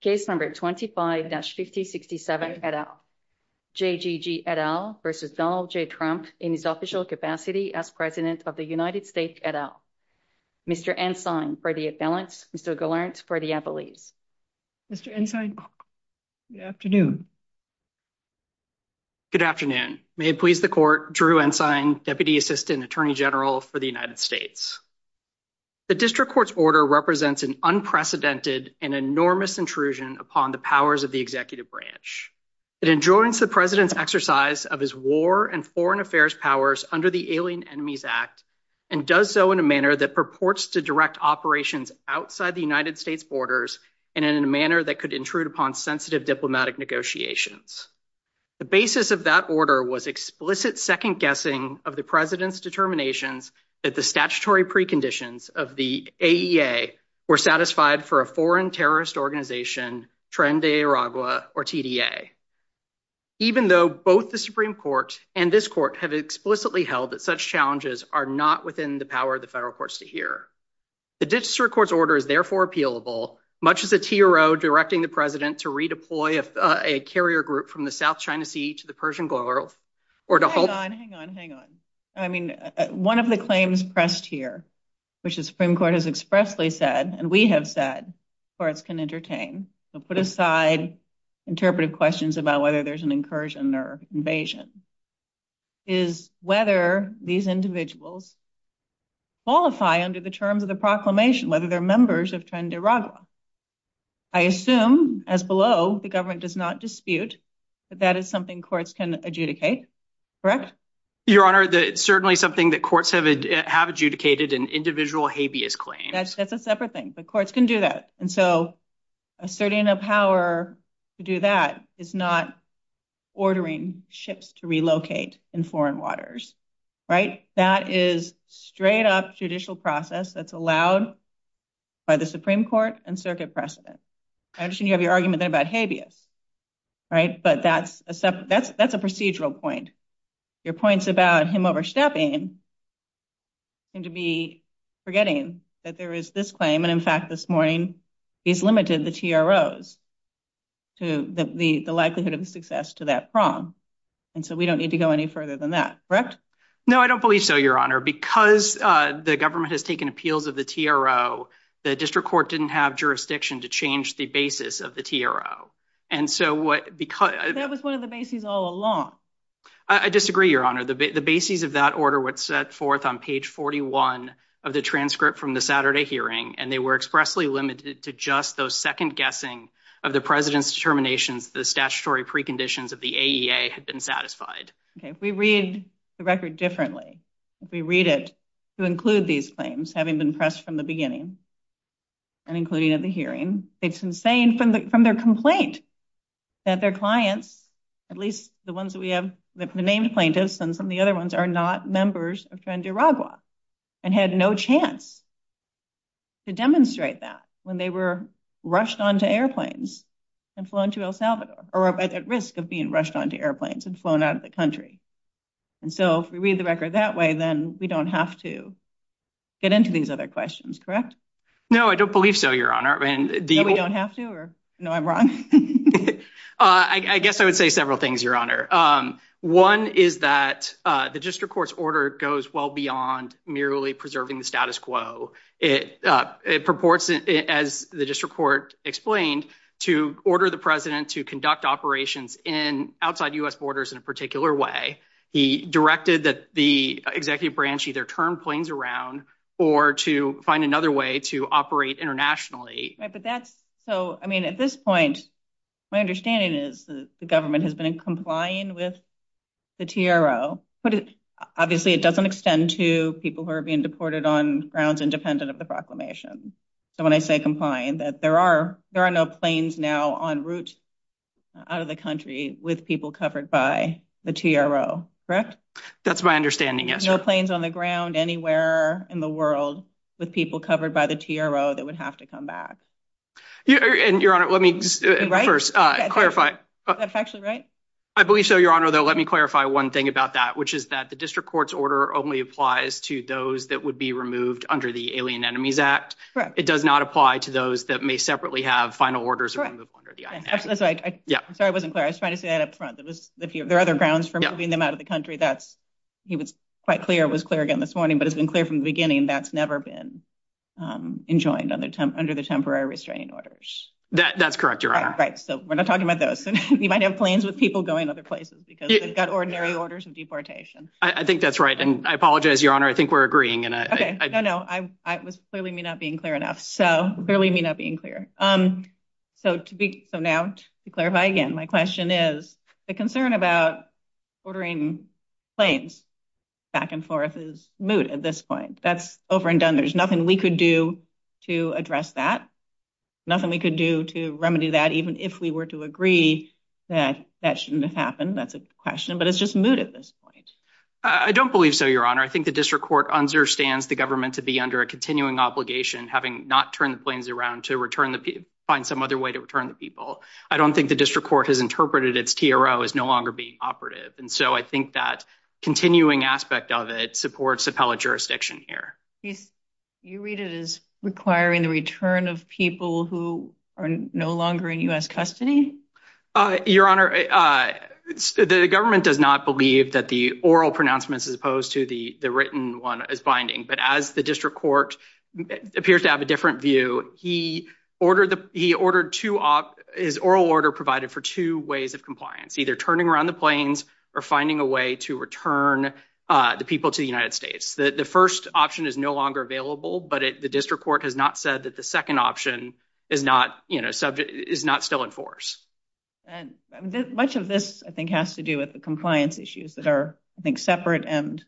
Case No. 25-6067, et al. J.G.G. et al. v. Donald J. Trump in his official capacity as President of the United States, et al. Mr. Ensign for the Appellants, Mr. Gallant for the Appellees. Mr. Ensign, good afternoon. Good afternoon. May it please the Court, Drew Ensign, Deputy Assistant Attorney General for the United States. The District Court's order represents an unprecedented and enormous intrusion upon the powers of the Executive Branch. It enjoins the President's exercise of his war and foreign affairs powers under the Alien Enemies Act and does so in a manner that purports to direct operations outside the United States borders and in a manner that could intrude upon sensitive diplomatic negotiations. The basis of that order was explicit second-guessing of the President's determinations that the statutory preconditions of the AEA were satisfied for a foreign terrorist organization, Trinidad and Tobago, or TDA, even though both the Supreme Court and this Court have explicitly held that such challenges are not within the power of the federal courts to hear. The District Court's order is therefore appealable, much as the TRO directing the President to redeploy a carrier group from the South China Sea to the Persian Gulf, or to hold... Hang on, hang on, hang on. I mean, one of the claims pressed here, which the Supreme Court has expressly said, and we have said courts can entertain, so put aside interpretive questions about whether there's an incursion or invasion, is whether these individuals qualify under the terms of the proclamation, whether they're members of Tenderagua. I assume, as below, the government does not dispute that that is something courts can adjudicate, correct? Your Honor, it's certainly something that courts have adjudicated in individual habeas claims. That's a separate thing, but courts can do that. Asserting a power to do that is not ordering ships to relocate in foreign waters, right? That is straight-up judicial process that's allowed by the Supreme Court and circuit precedent. I understand you have your argument about habeas, right? But that's a procedural point. Your points about him overstepping seem to be forgetting that there is this claim, and in fact, this morning, he's limited the TROs, the likelihood of success to that prong. And so we don't need to go any further than that, correct? No, I don't believe so, Your Honor. Because the government has taken appeals of the TRO, the district court didn't have jurisdiction to change the basis of the TRO. That was one of the bases all along. I disagree, Your Honor. The basis of that order was set forth on page 41 of the transcript from the Saturday hearing, and they were expressly limited to just those second-guessing of the president's determination that the statutory preconditions of the AEA had been satisfied. Okay, if we read the record differently, if we read it to include these claims, having been pressed from the beginning and including at the hearing, it's insane from their complaint that their clients, at least the ones that we have, the named plaintiffs and some of the other ones, are not members of Trans-Nevada and had no chance to demonstrate that when they were rushed onto airplanes and flown to El Salvador or at risk of being rushed onto airplanes and flown out of the country. And so if we read the record that way, then we don't have to get into these other questions, correct? No, I don't believe so, Your Honor. We don't have to? No, I'm wrong? I guess I would say several things, Your Honor. One is that the district court's order goes well beyond merely preserving the status quo. It purports, as the district court explained, to order the president to conduct operations outside U.S. borders in a particular way. He directed that the executive branch either turn planes around or to find another way to operate internationally. So, I mean, at this point, my understanding is that the government has been complying with the TRO, but obviously it doesn't extend to people who are being deported on grounds independent of the proclamation. So when I say complying, that there are no planes now en route out of the country with people covered by the TRO, correct? That's my understanding, yes. No planes on the ground anywhere in the world with people covered by the TRO that would have to come back. And, Your Honor, let me first clarify. That's actually right? I believe so, Your Honor, though let me clarify one thing about that, which is that the district court's order only applies to those that would be removed under the Alien Enemies Act. It does not apply to those that may separately have final orders under the INAC. I'm sorry I wasn't clear. I was trying to say that up front. There are other grounds for moving them out of the country. He was quite clear, it was clear again this morning, but it's been clear from the beginning that's never been enjoined under the temporary restraining orders. That's correct, Your Honor. Right, so we're not talking about those. You might have planes with people going other places because they've got ordinary orders of deportation. I think that's right, and I apologize, Your Honor, I think we're agreeing. No, no, I was clearly not being clear enough. Clearly not being clear. So now to clarify again, my question is the concern about ordering planes back and forth is moot at this point. That's over and done. There's nothing we could do to address that, nothing we could do to remedy that, even if we were to agree that that shouldn't have happened. That's a question, but it's just moot at this point. I don't believe so, Your Honor. I think the district court understands the government to be under a continuing obligation, having not turned the planes around to find some other way to return the people. I don't think the district court has interpreted its TRO as no longer being operative, and so I think that continuing aspect of it supports appellate jurisdiction here. You read it as requiring the return of people who are no longer in U.S. custody? Your Honor, the government does not believe that the oral pronouncements as opposed to the written one is binding, but as the district court appears to have a different view, he ordered his oral order provided for two ways of compliance, either turning around the planes or finding a way to return the people to the United States. The first option is no longer available, but the district court has not said that the second option is not still in force. Much of this, I think, has to do with the compliance issues that are, I think, separate and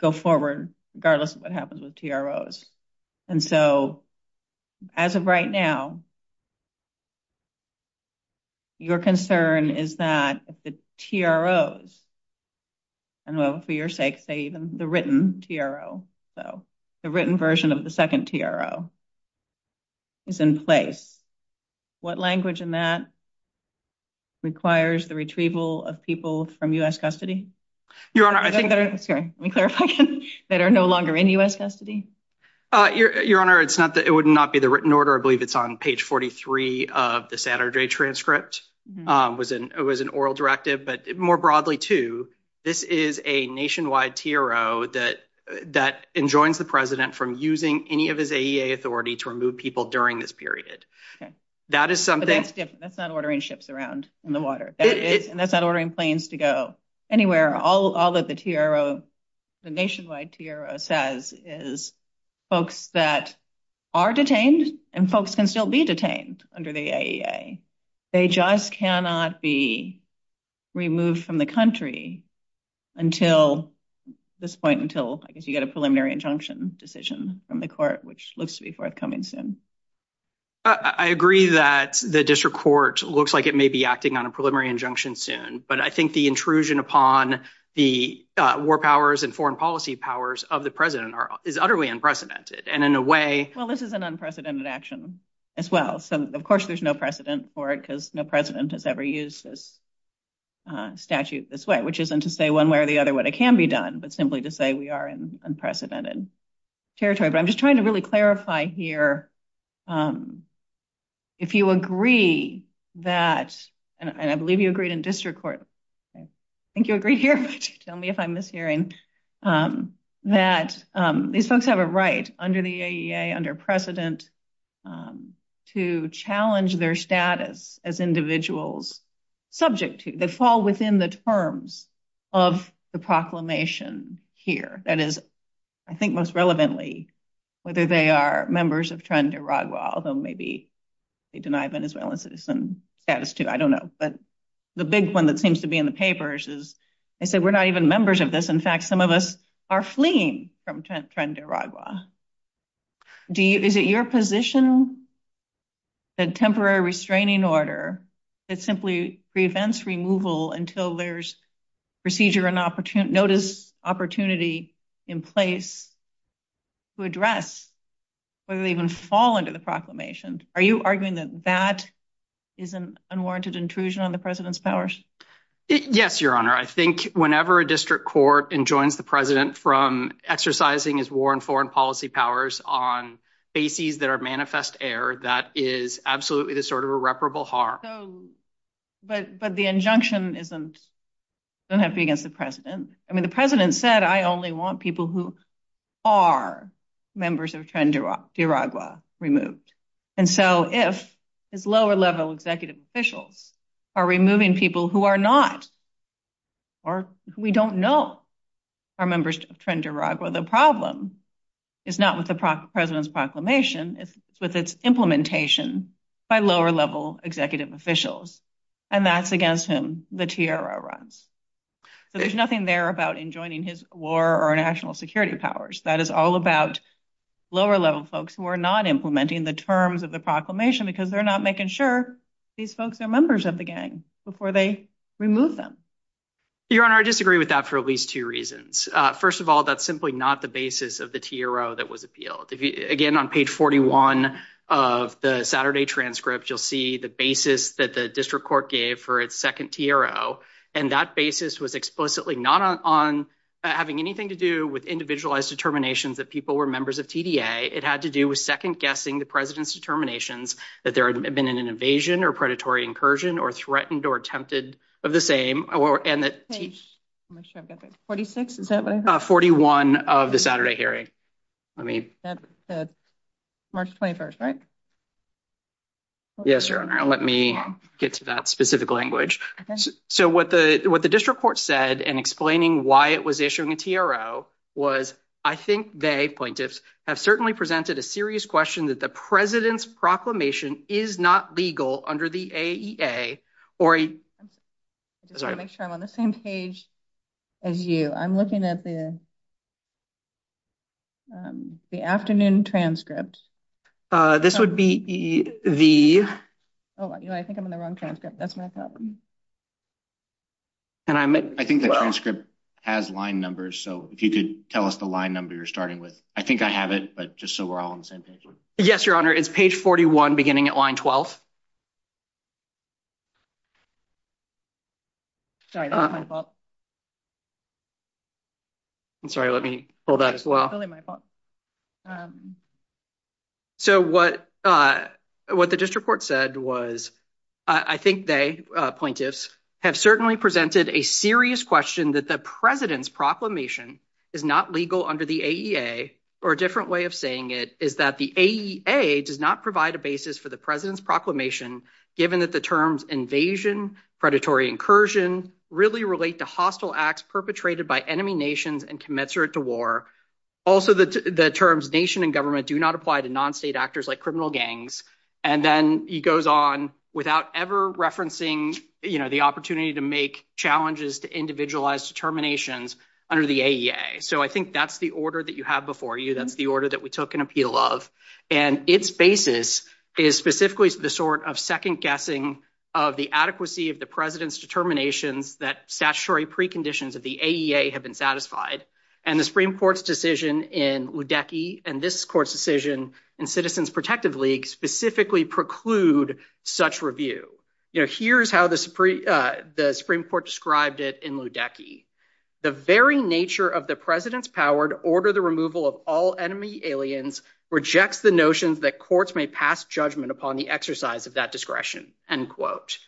go forward regardless of what happens with TROs. And so, as of right now, your concern is that the TROs, and for your sake, the written TRO, the written version of the second TRO, is in place. What language in that requires the retrieval of people from U.S. custody? Let me clarify again. That are no longer in U.S. custody? Your Honor, it would not be the written order. I believe it's on page 43 of the Saturday transcript. It was an oral directive, but more broadly, too, this is a nationwide TRO that enjoins the president from using any of his AEA authority to remove people during this period. That is something. That's not ordering ships around in the water. That's not ordering planes to go anywhere. All of the TRO, the nationwide TRO says is folks that are detained and folks can still be detained under the AEA. They just cannot be removed from the country until this point, until you get a preliminary injunction decision from the court, which looks to be forthcoming soon. I agree that the district court looks like it may be acting on a preliminary injunction soon, but I think the intrusion upon the war powers and foreign policy powers of the president is utterly unprecedented and in a way. Well, this is an unprecedented action as well. So, of course, there's no precedent for it because no president has ever used this statute this way, which isn't to say one way or the other what it can be done, but simply to say we are in unprecedented territory. I'm just trying to really clarify here. If you agree that, and I believe you agree in district court, I think you agree here. Tell me if I'm mishearing that these folks have a right under the AEA, under precedent, to challenge their status as individuals subject to, that fall within the terms of the proclamation here. That is, I think most relevantly, whether they are members of TREN de Uruguay, although maybe they deny Venezuelan citizen status too. I don't know. But the big one that seems to be in the papers is they said we're not even members of this. In fact, some of us are fleeing from TREN de Uruguay. Is it your position that temporary restraining order that simply prevents removal until there's procedure and opportunity, notice, opportunity in place to address whether they even fall under the proclamation? Are you arguing that that is an unwarranted intrusion on the president's powers? Yes, Your Honor. I think whenever a district court enjoins the president from exercising his war and foreign policy powers on bases that are manifest error, that is absolutely a sort of irreparable harm. But the injunction doesn't have to be against the president. I mean, the president said, I only want people who are members of TREN de Uruguay removed. And so if it's lower level executive officials are removing people who are not, or who we don't know are members of TREN de Uruguay, the problem is not with the president's proclamation, it's with its implementation by lower level executive officials. And that's against him, the TRO runs. So there's nothing there about enjoining his war or national security powers. That is all about lower level folks who are not implementing the terms of the proclamation because they're not making sure these folks are members of the gang before they remove them. Your Honor, I disagree with that for at least two reasons. First of all, that's simply not the basis of the TRO that was appealed. Again, on page 41 of the Saturday transcript, you'll see the basis that the district court gave for its second TRO. And that basis was explicitly not on having anything to do with individualized determinations that people were members of TDA. It had to do with second guessing the president's determinations that there had been an invasion or predatory incursion or threatened or attempted of the same. Page 46, is that right? 41 of the Saturday hearing. That's March 21st, right? Yes, Your Honor. Let me get to that specific language. So what the district court said in explaining why it was issuing a TRO was, I think they, plaintiffs, have certainly presented a serious question that the president's proclamation is not legal under the AEA or... I just want to make sure I'm on the same page as you. I'm looking at the afternoon transcript. This would be the... I think I'm in the wrong transcript. That's my problem. I think the transcript has line numbers, so if you could tell us the line number you're starting with. I think I have it, but just so we're all on the same page. Yes, Your Honor. It's page 41, beginning at line 12. Sorry, that's my fault. I'm sorry. Let me pull that as well. So what the district court said was, I think they, plaintiffs, have certainly presented a serious question that the president's proclamation is not legal under the AEA, or a different way of saying it is that the AEA does not provide a basis for the president's proclamation, given that the terms invasion, predatory incursion, really relate to hostile acts perpetrated by enemy nations and commensurate to war. Also, the terms nation and government do not apply to non-state actors like criminal gangs. And then he goes on without ever referencing the opportunity to make challenges to individualized determinations under the AEA. So I think that's the order that you have before you. That's the order that we took an appeal of. And its basis is specifically the sort of second guessing of the adequacy of the president's determination that statutory preconditions of the AEA have been satisfied. And the Supreme Court's decision in Ludecky and this court's decision in Citizens Protected League specifically preclude such review. Here's how the Supreme Court described it in Ludecky. The very nature of the president's power to order the removal of all enemy aliens rejects the notion that courts may pass judgment upon the exercise of that discretion, end quote.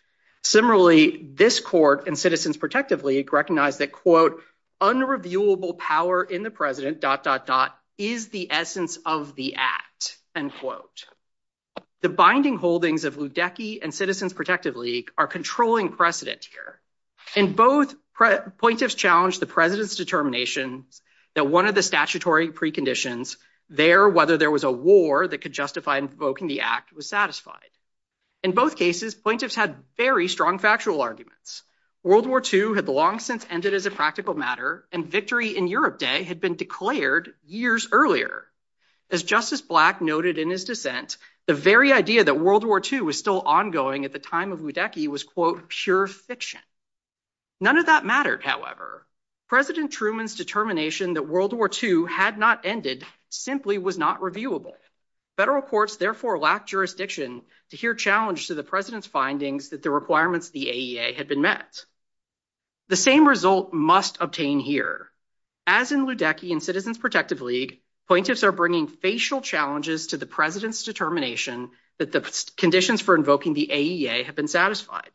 Similarly, this court in Citizens Protected League recognized that, quote, unreviewable power in the president dot dot dot is the essence of the act, end quote. The binding holdings of Ludecky and Citizens Protected League are controlling precedent here. In both, plaintiffs challenged the president's determination that one of the statutory preconditions there, whether there was a war that could justify invoking the act, was satisfied. In both cases, plaintiffs had very strong factual arguments. World War II had long since ended as a practical matter and victory in Europe Day had been declared years earlier. As Justice Black noted in his dissent, the very idea that World War II was still ongoing at the time of Ludecky was, quote, pure fiction. None of that mattered, however. President Truman's determination that World War II had not ended simply was not reviewable. Federal courts therefore lacked jurisdiction to hear challenge to the president's findings that the requirements of the AEA had been met. The same result must obtain here. As in Ludecky and Citizens Protected League, plaintiffs are bringing facial challenges to the president's determination that the conditions for invoking the AEA have been satisfied.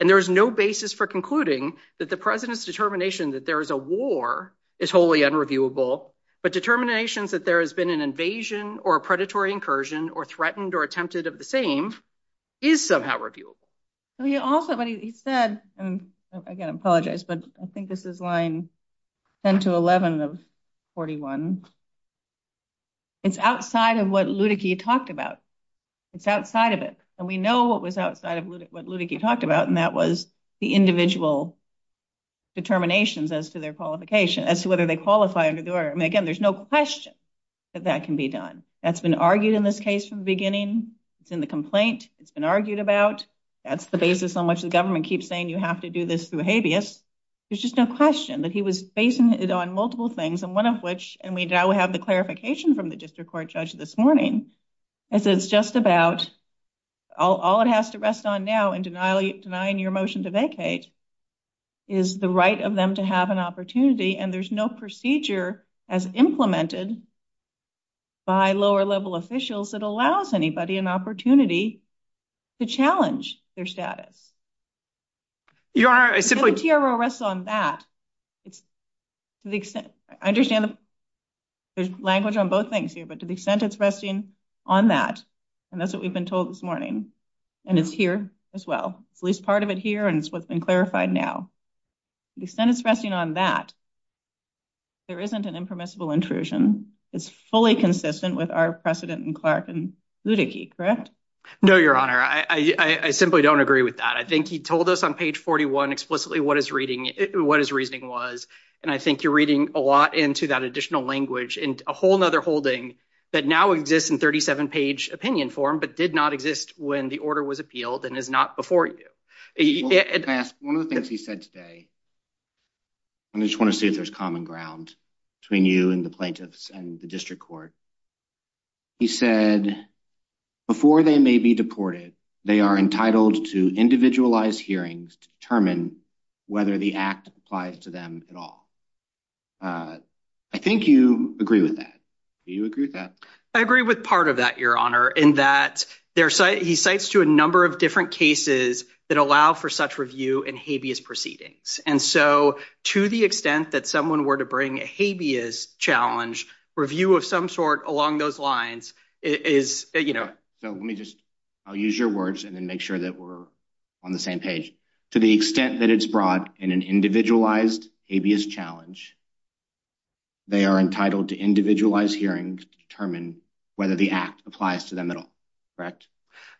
And there is no basis for concluding that the president's determination that there is a war is wholly unreviewable, but determinations that there has been an invasion or a predatory incursion or threatened or attempted of the same is somehow reviewable. So he also, what he said, and again, I apologize, but I think this is line 10 to 11 of 41, it's outside of what Ludecky talked about. It's outside of it. And we know what was outside of what Ludecky talked about, and that was the individual determinations as to their qualification, as to whether they qualify under the order. And again, there's no question that that can be done. That's been argued in this case from the beginning. It's in the complaint. It's been argued about. That's the basis on which the government keeps saying you have to do this through habeas. There's just no question that he was basing it on multiple things, and one of which, and we now have the clarification from the district court judge this morning, is that it's just about, all it has to rest on now in denying your motion to vacate is the right of them to have an opportunity, and there's no procedure as implemented by lower level officials that allows anybody an opportunity to challenge their status. I understand the language on both things here, but to the extent it's resting on that, and that's what we've been told this morning, and it's here as well. At least part of it here, and it's what's been clarified now. On that, there isn't an impermissible intrusion. It's fully consistent with our precedent in Clark and Ludecky, correct? No, Your Honor. I simply don't agree with that. I think he told us on page 41 explicitly what his reasoning was, and I think you're reading a lot into that additional language in a whole other holding that now exists in 37-page opinion form, but did not exist when the order was appealed and is not before you. One of the things he said today, I just want to see if there's common ground between you and the plaintiffs and the district court. He said, before they may be deported, they are entitled to individualized hearings to determine whether the act applies to them at all. I think you agree with that. Do you agree with that? I agree with part of that, Your Honor, in that he cites to a number of different cases that allow for such review in habeas proceedings, and so to the extent that someone were to bring a habeas challenge review of some sort along those lines is, you know. So let me just, I'll use your words and then make sure that we're on the same page. To the extent that it's brought in an individualized habeas challenge, they are entitled to individualized hearings to determine whether the act applies to them at all, correct?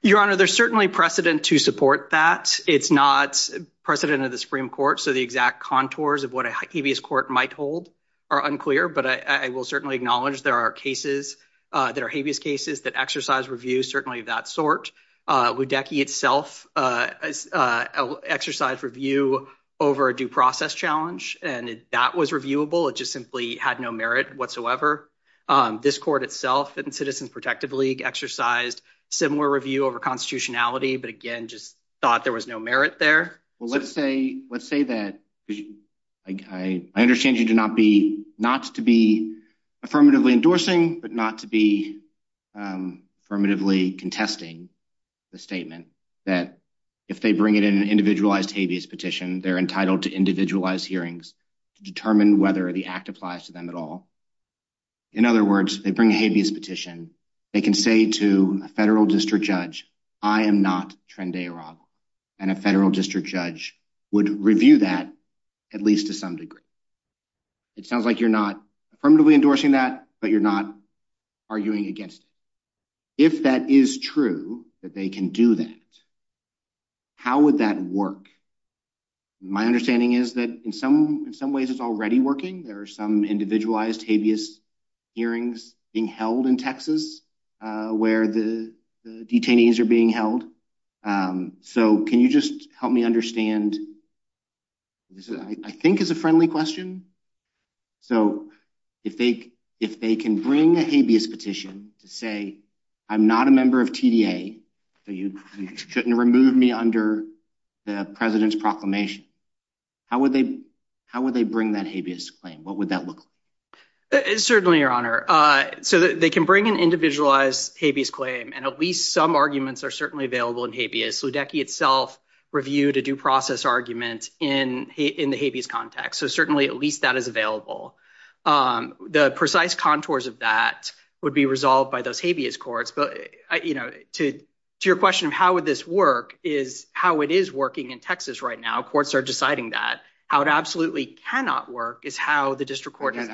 Your Honor, there's certainly precedent to support that. It's not precedent of the Supreme Court, so the exact contours of what a habeas court might hold are unclear, but I will certainly acknowledge there are cases that are habeas cases that exercise review, certainly of that sort. Ludecky itself exercised review over a due process challenge, and that was reviewable. It just simply had no merit whatsoever. This court itself, the Citizens Protective League, exercised similar review over constitutionality, but again, just thought there was no merit there. Well, let's say that – I understand you do not be – not to be affirmatively endorsing, but not to be affirmatively contesting the statement that if they bring it in an individualized habeas petition, they're entitled to individualized hearings to determine whether the act applies to them at all. In other words, they bring a habeas petition. They can say to a federal district judge, I am not Trende Aravo, and a federal district judge would review that at least to some degree. It sounds like you're not affirmatively endorsing that, but you're not arguing against it. If that is true, that they can do that, how would that work? My understanding is that in some ways it's already working. There are some individualized habeas hearings being held in Texas where the detainees are being held. Can you just help me understand? I think it's a friendly question. If they can bring a habeas petition to say, I'm not a member of TDA, so you couldn't remove me under the president's proclamation, how would they bring that habeas claim? What would that look like? Certainly, Your Honor. They can bring an individualized habeas claim, and at least some arguments are certainly available in habeas. Ludecky itself reviewed a due process argument in the habeas context, so certainly at least that is available. The precise contours of that would be resolved by those habeas courts, but to your question of how would this work is how it is working in Texas right now. Courts are deciding that. How it absolutely cannot work is how the district court— Under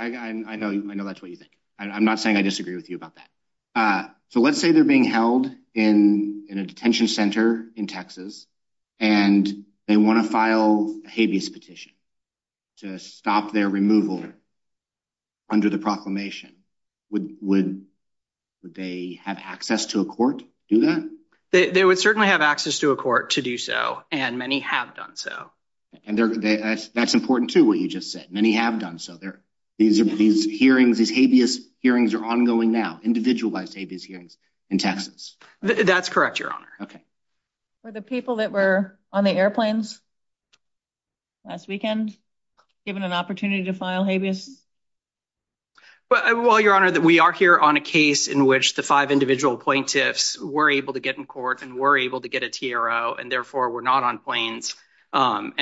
the proclamation, would they have access to a court to do that? They would certainly have access to a court to do so, and many have done so. And that's important, too, what you just said. Many have done so. These habeas hearings are ongoing now, individualized habeas hearings in Texas. That's correct, Your Honor. Were the people that were on the airplanes last weekend given an opportunity to file habeas? Well, Your Honor, we are here on a case in which the five individual plaintiffs were able to get in court and were able to get a TRO, and therefore were not on planes. But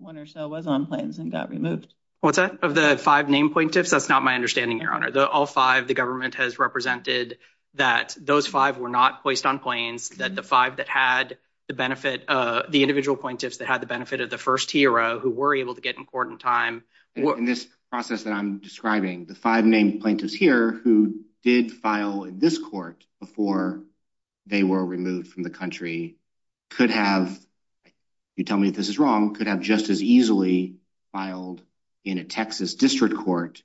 one or so was on planes and got removed. Of the five named plaintiffs, that's not my understanding, Your Honor. Of all five, the government has represented that those five were not placed on planes, that the five that had the benefit—the individual plaintiffs that had the benefit of the first TRO who were able to get in court in time— In this process that I'm describing, the five named plaintiffs here who did file in this court before they were removed from the country could have—you tell me if this is wrong—could have just as easily filed in a Texas district court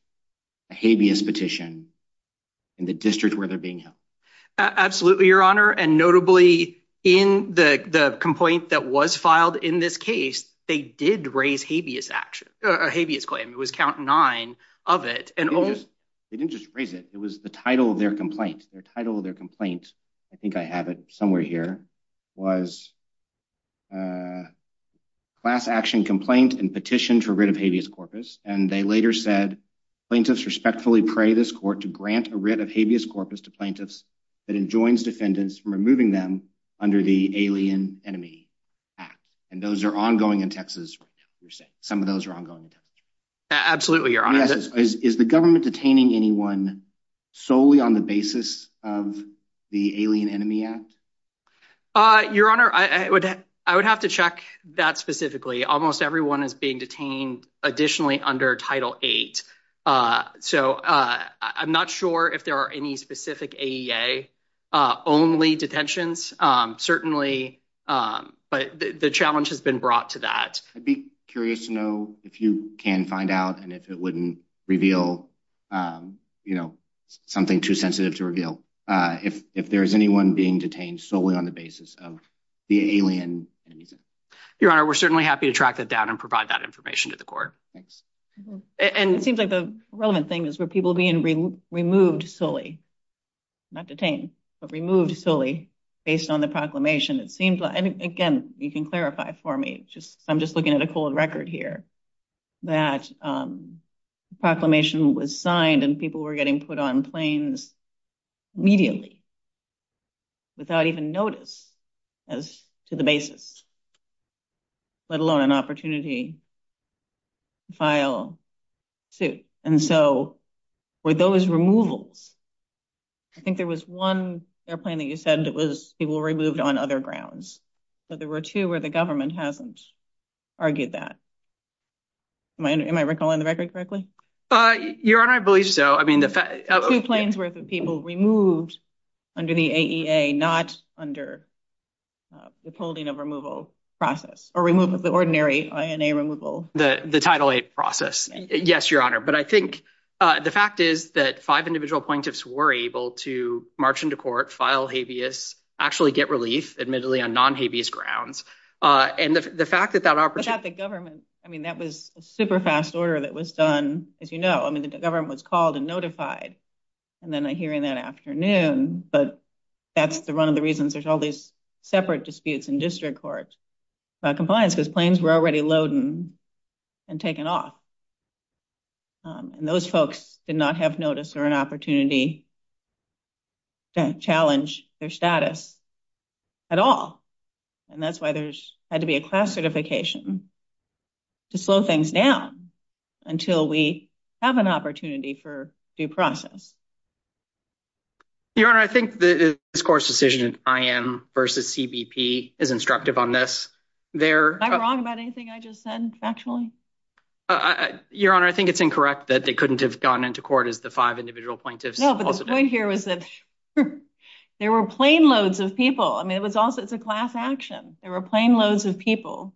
a habeas petition in the district where they're being held. Absolutely, Your Honor. And notably, in the complaint that was filed in this case, they did raise a habeas claim. It was count nine of it. They didn't just raise it. It was the title of their complaint. The title of their complaint—I think I have it somewhere here—was class action complaint and petition to rid of habeas corpus. And they later said, plaintiffs respectfully pray this court to grant a writ of habeas corpus to plaintiffs that enjoins defendants from removing them under the Alien Enemy Act. And those are ongoing in Texas. Some of those are ongoing in Texas. Absolutely, Your Honor. Is the government detaining anyone solely on the basis of the Alien Enemy Act? Your Honor, I would have to check that specifically. Almost everyone is being detained additionally under Title VIII. So, I'm not sure if there are any specific AEA-only detentions. Certainly, but the challenge has been brought to that. I'd be curious to know if you can find out and if it wouldn't reveal something too sensitive to reveal. If there's anyone being detained solely on the basis of the Alien Enemy Act. Your Honor, we're certainly happy to track that down and provide that information to the court. And it seems like the relevant thing is where people being removed solely, not detained, but removed solely based on the proclamation. Again, you can clarify for me. I'm just looking at a cold record here. That proclamation was signed and people were getting put on planes immediately without even notice as to the basis, let alone an opportunity to file suit. And so, with those removals, I think there was one airplane that you said people removed on other grounds. But there were two where the government hasn't argued that. Am I recalling the record correctly? Your Honor, I believe so. Two planes where the people were removed under the AEA, not under the holding of removal process or removal of the ordinary INA removal. The Title VIII process. Yes, Your Honor. But I think the fact is that five individual plaintiffs were able to march into court, file habeas, actually get released, admittedly on non-habeas grounds. And the fact that that opportunity... I thought the government, I mean, that was a super fast order that was done, as you know. I mean, the government was called and notified. And then I hear in that afternoon, but that's one of the reasons there's all these separate disputes in district courts about compliance, because planes were already loaded and taken off. And those folks did not have notice or an opportunity to challenge their status at all. And that's why there's had to be a class certification to slow things down until we have an opportunity for due process. Your Honor, I think this court's decision, IM versus CBP, is instructive on this. Am I wrong about anything I just said, actually? Your Honor, I think it's incorrect that they couldn't have gotten into court as the five individual plaintiffs. No, but the point here was that there were plane loads of people. I mean, it's a class action. There were plane loads of people.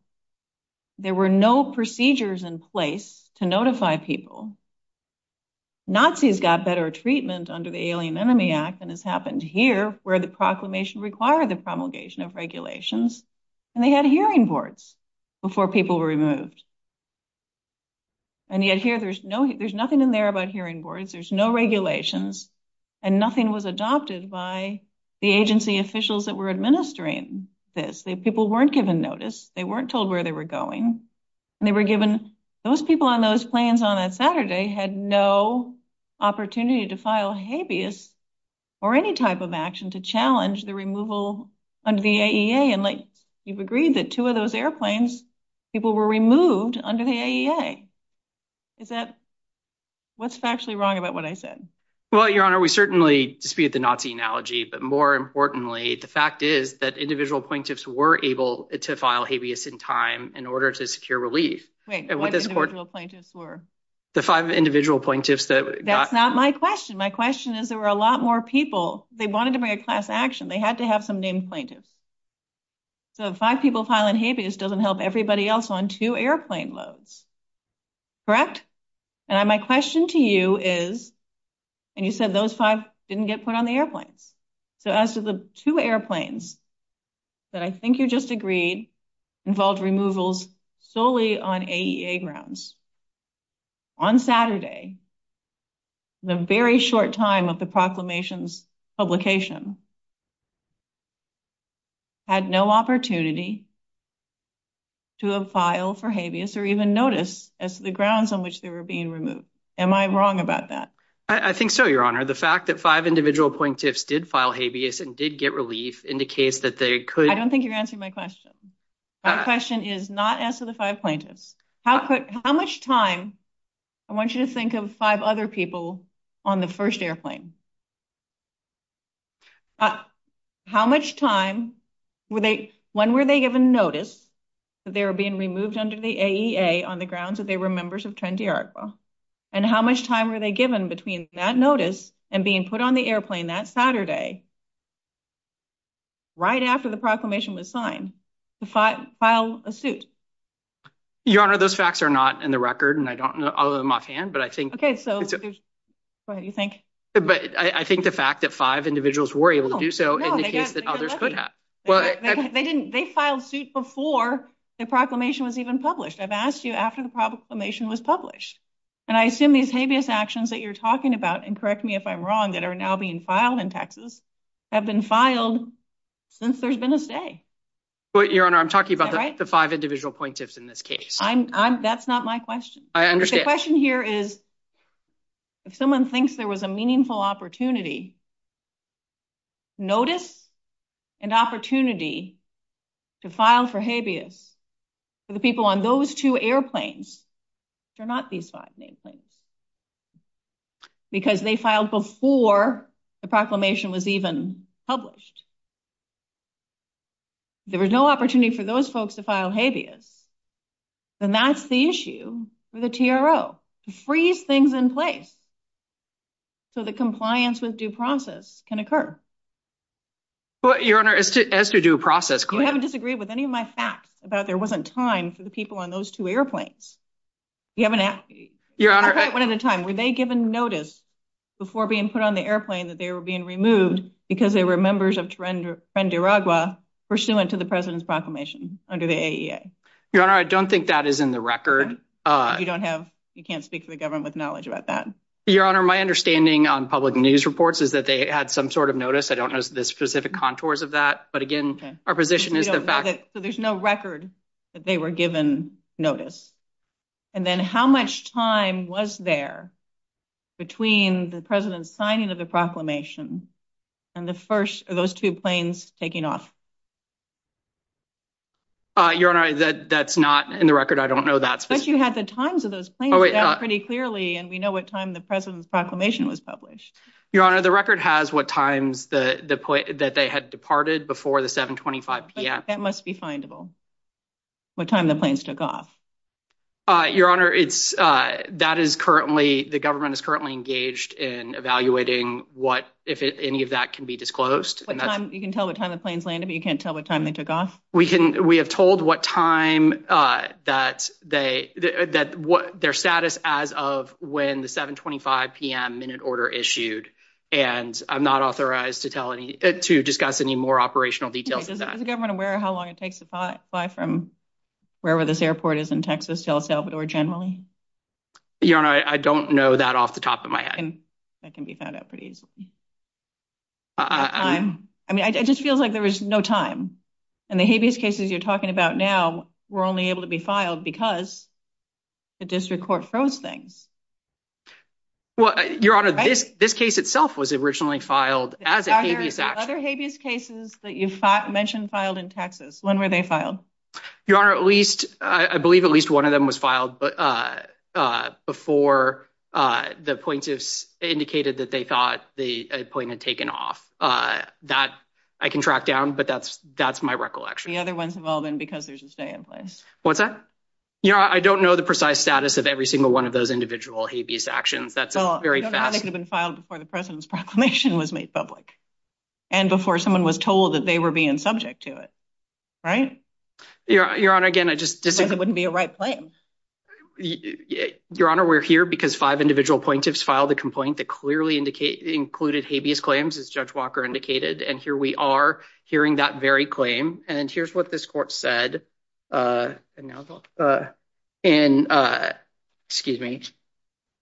There were no procedures in place to notify people. Nazis got better treatment under the Alien Enemy Act than has happened here, where the proclamation required the promulgation of regulations. And they had hearing boards before people were removed. And yet here, there's nothing in there about hearing boards. There's no regulations. And nothing was adopted by the agency officials that were administering this. People weren't given notice. They weren't told where they were going. And they were given – those people on those planes on that Saturday had no opportunity to file habeas or any type of action to challenge the removal of the AEA. And you've agreed that two of those airplanes, people were removed under the AEA. Is that – what's actually wrong about what I said? Well, Your Honor, we certainly dispute the Nazi analogy. But more importantly, the fact is that individual plaintiffs were able to file habeas in time in order to secure release. Wait, what individual plaintiffs were? The five individual plaintiffs that got – That's not my question. My question is there were a lot more people. They wanted to make a class action. They had to have some named plaintiffs. So five people filing habeas doesn't help everybody else on two airplane loads. Correct? And my question to you is – and you said those five didn't get put on the airplane. So as to the two airplanes that I think you just agreed involved removals solely on AEA grounds, on Saturday, in the very short time of the proclamation's publication, had no opportunity to file for habeas or even notice as to the grounds on which they were being removed. Am I wrong about that? I think so, Your Honor. The fact that five individual plaintiffs did file habeas and did get relief indicates that they could – I don't think you're answering my question. My question is not as to the five plaintiffs. How much time – I want you to think of five other people on the first airplane. How much time were they – when were they given notice that they were being removed under the AEA on the grounds that they were members of Trent-D'Arco? And how much time were they given between that notice and being put on the airplane that Saturday, right after the proclamation was signed, to file a suit? Your Honor, those facts are not in the record, and I don't know all of them offhand, but I think – Okay. Go ahead. I think the fact that five individuals were able to do so indicates that others could not. They filed suit before the proclamation was even published. I've asked you after the proclamation was published. And I assume these habeas actions that you're talking about – and correct me if I'm wrong – that are now being filed in Texas have been filed since there's been a say. Your Honor, I'm talking about the five individual plaintiffs in this case. That's not my question. I understand. My question here is, if someone thinks there was a meaningful opportunity, notice and opportunity to file for habeas for the people on those two airplanes. They're not these five airplanes. Because they filed before the proclamation was even published. If there was no opportunity for those folks to file habeas, then that's the issue for the TRO, to freeze things in place so that compliance with due process can occur. Your Honor, as to due process – You haven't disagreed with any of my facts about there wasn't time for the people on those two airplanes. You haven't asked me. Your Honor – One at a time, were they given notice before being put on the airplane that they were being removed because they were members of Teren de Aragua pursuant to the President's proclamation under the AEA? Your Honor, I don't think that is in the record. You don't have – you can't speak to the government with knowledge about that. Your Honor, my understanding on public news reports is that they had some sort of notice. I don't know the specific contours of that. But again, our position is that – So there's no record that they were given notice. And then how much time was there between the President's signing of the proclamation and the first of those two planes taking off? Your Honor, that's not in the record. I don't know that. But you had the times of those planes pretty clearly, and we know what time the President's proclamation was published. Your Honor, the record has what times that they had departed before the 725 p.m. That must be findable. What time the planes took off. Your Honor, that is currently – the government is currently engaged in evaluating what – if any of that can be disclosed. You can tell what time the planes landed, but you can't tell what time they took off? We have told what time that – their status as of when the 725 p.m. minute order issued. And I'm not authorized to tell any – to discuss any more operational details of that. Is the government aware of how long it takes to fly from wherever this airport is in Texas to El Salvador generally? Your Honor, I don't know that off the top of my head. That can be found out pretty easily. I mean, it just feels like there was no time. And the habeas cases you're talking about now were only able to be filed because the district court froze things. Well, Your Honor, this case itself was originally filed as a habeas action. Other habeas cases that you mentioned filed in Texas, when were they filed? Your Honor, at least – I believe at least one of them was filed before the plaintiffs indicated that they thought the plane had taken off. That I can track down, but that's my recollection. The other ones involving because there's a stay in place. What's that? Your Honor, I don't know the precise status of every single one of those individual habeas actions. They could have been filed before the President's proclamation was made public. And before someone was told that they were being subject to it. Your Honor, again, I just – Because it wouldn't be a right claim. Your Honor, we're here because five individual plaintiffs filed a complaint that clearly included habeas claims, as Judge Walker indicated. And here we are hearing that very claim. And here's what this court said. Excuse me.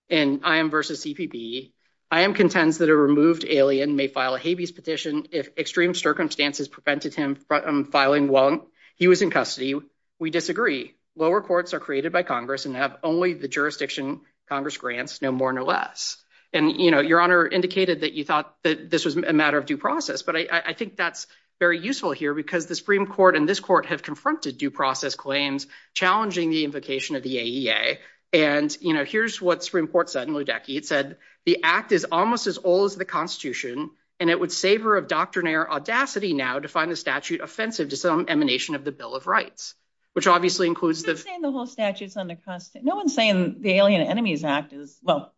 In IM v. CPP, IM contends that a removed alien may file a habeas petition if extreme circumstances prevented him from filing one. He was in custody. We disagree. Lower courts are created by Congress and have only the jurisdiction Congress grants, no more, no less. And, you know, Your Honor indicated that you thought that this was a matter of due process. But I think that's very useful here because the Supreme Court and this court have confronted due process claims challenging the invocation of the AEA. And, you know, here's what Supreme Court said in Ludecky. It said, the act is almost as old as the Constitution, and it would savor of doctrinaire audacity now to find the statute offensive to some emanation of the Bill of Rights. Which obviously includes – No one's saying the whole statute's under – No one's saying the Alien Enemies Act is – Well,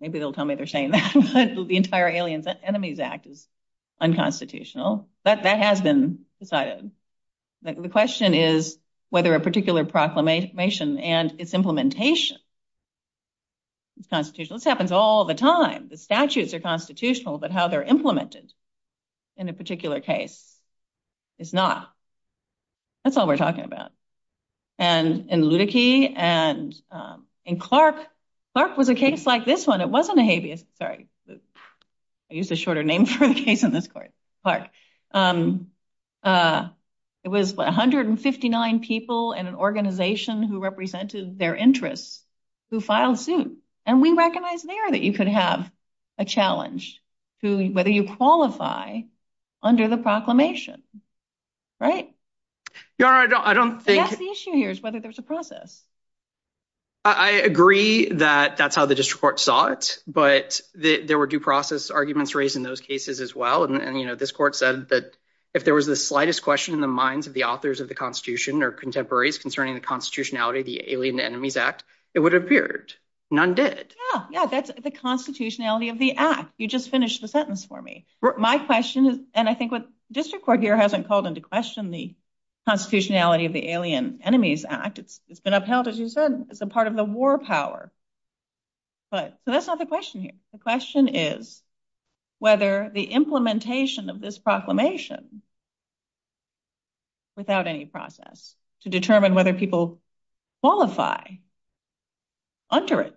maybe they'll tell me they're saying that. The entire Alien Enemies Act is unconstitutional. That has been decided. The question is whether a particular proclamation and its implementation is constitutional. This happens all the time. The statutes are constitutional, but how they're implemented in a particular case is not. That's all we're talking about. And in Ludecky and in Clark, Clark was a case like this one. It wasn't a habeas – sorry. I used a shorter name for a case in this court. Clark. It was 159 people in an organization who represented their interests who filed suits. And we recognized there that you could have a challenge to whether you qualify under the proclamation. Right? The issue here is whether there's a process. I agree that that's how the district court saw it. But there were due process arguments raised in those cases as well. And this court said that if there was the slightest question in the minds of the authors of the Constitution or contemporaries concerning the constitutionality of the Alien Enemies Act, it would have appeared. None did. Yeah, that's the constitutionality of the act. You just finished the sentence for me. My question, and I think what district court here hasn't called into question the constitutionality of the Alien Enemies Act. It's been upheld as you said. It's a part of the war power. So that's not the question here. The question is whether the implementation of this proclamation without any process to determine whether people qualify under it.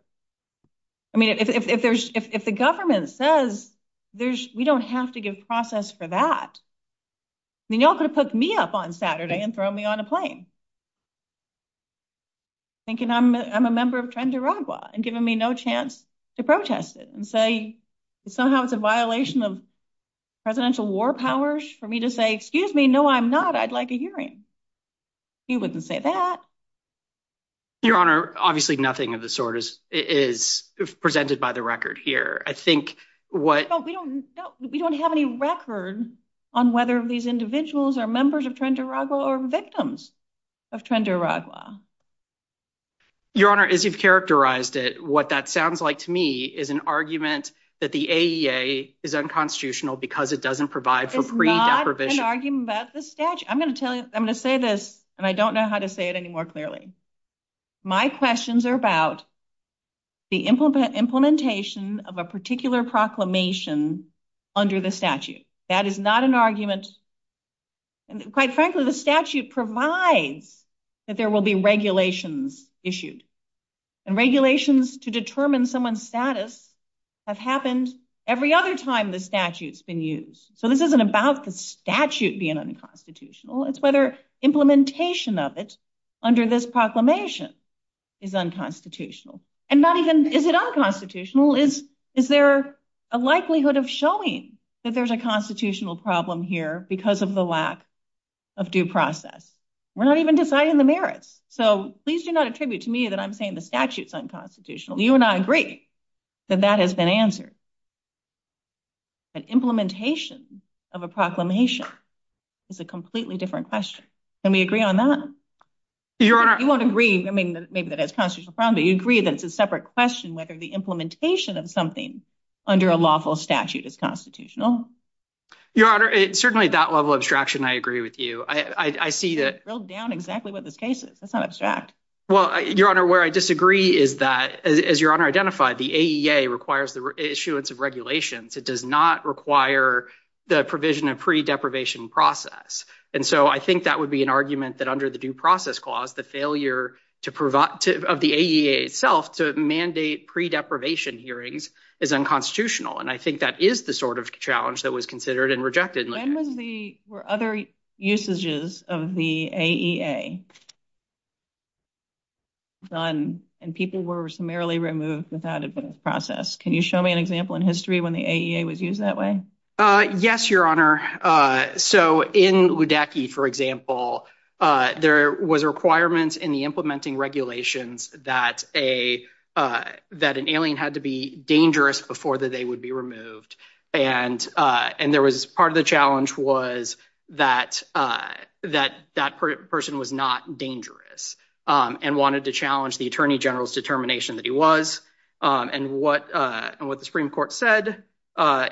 I mean, if the government says we don't have to give process for that. I mean, y'all could have put me up on Saturday and thrown me on a plane. Thinking I'm a member of Trent-Duragua and giving me no chance to protest it. And say somehow it's a violation of presidential war powers for me to say, excuse me, no, I'm not. I'd like a hearing. He wouldn't say that. Your Honor, obviously, nothing of the sort is presented by the record here. I think what we don't have any record on whether these individuals are members of Trent-Duragua or victims of Trent-Duragua. Your Honor, as you've characterized it, what that sounds like to me is an argument that the AEA is unconstitutional because it doesn't provide for. I'm going to say this, and I don't know how to say it any more clearly. My questions are about the implementation of a particular proclamation under the statute. That is not an argument. And quite frankly, the statute provides that there will be regulations issued. And regulations to determine someone's status have happened every other time the statute's been used. So this isn't about the statute being unconstitutional. It's whether implementation of it under this proclamation is unconstitutional. And not even is it unconstitutional. Is there a likelihood of showing that there's a constitutional problem here because of the lack of due process? We're not even deciding the merits. So please do not attribute to me that I'm saying the statute's unconstitutional. You and I agree that that has been answered. But implementation of a proclamation is a completely different question. Can we agree on that? You won't agree, I mean, maybe that it's a constitutional problem. But you agree that it's a separate question whether the implementation of something under a lawful statute is constitutional. Your Honor, certainly at that level of abstraction, I agree with you. I see that… Build down exactly what this case is. That's not abstract. Well, Your Honor, where I disagree is that, as Your Honor identified, the AEA requires the issuance of regulations. It does not require the provision of pre-deprivation process. And so I think that would be an argument that under the due process clause, the failure of the AEA itself to mandate pre-deprivation hearings is unconstitutional. And I think that is the sort of challenge that was considered and rejected. When were other usages of the AEA? And people were summarily removed without a due process. Can you show me an example in history when the AEA was used that way? Yes, Your Honor. So in Ludecky, for example, there was a requirement in the implementing regulations that an alien had to be dangerous before they would be removed. And part of the challenge was that that person was not dangerous. And wanted to challenge the Attorney General's determination that he was. And what the Supreme Court said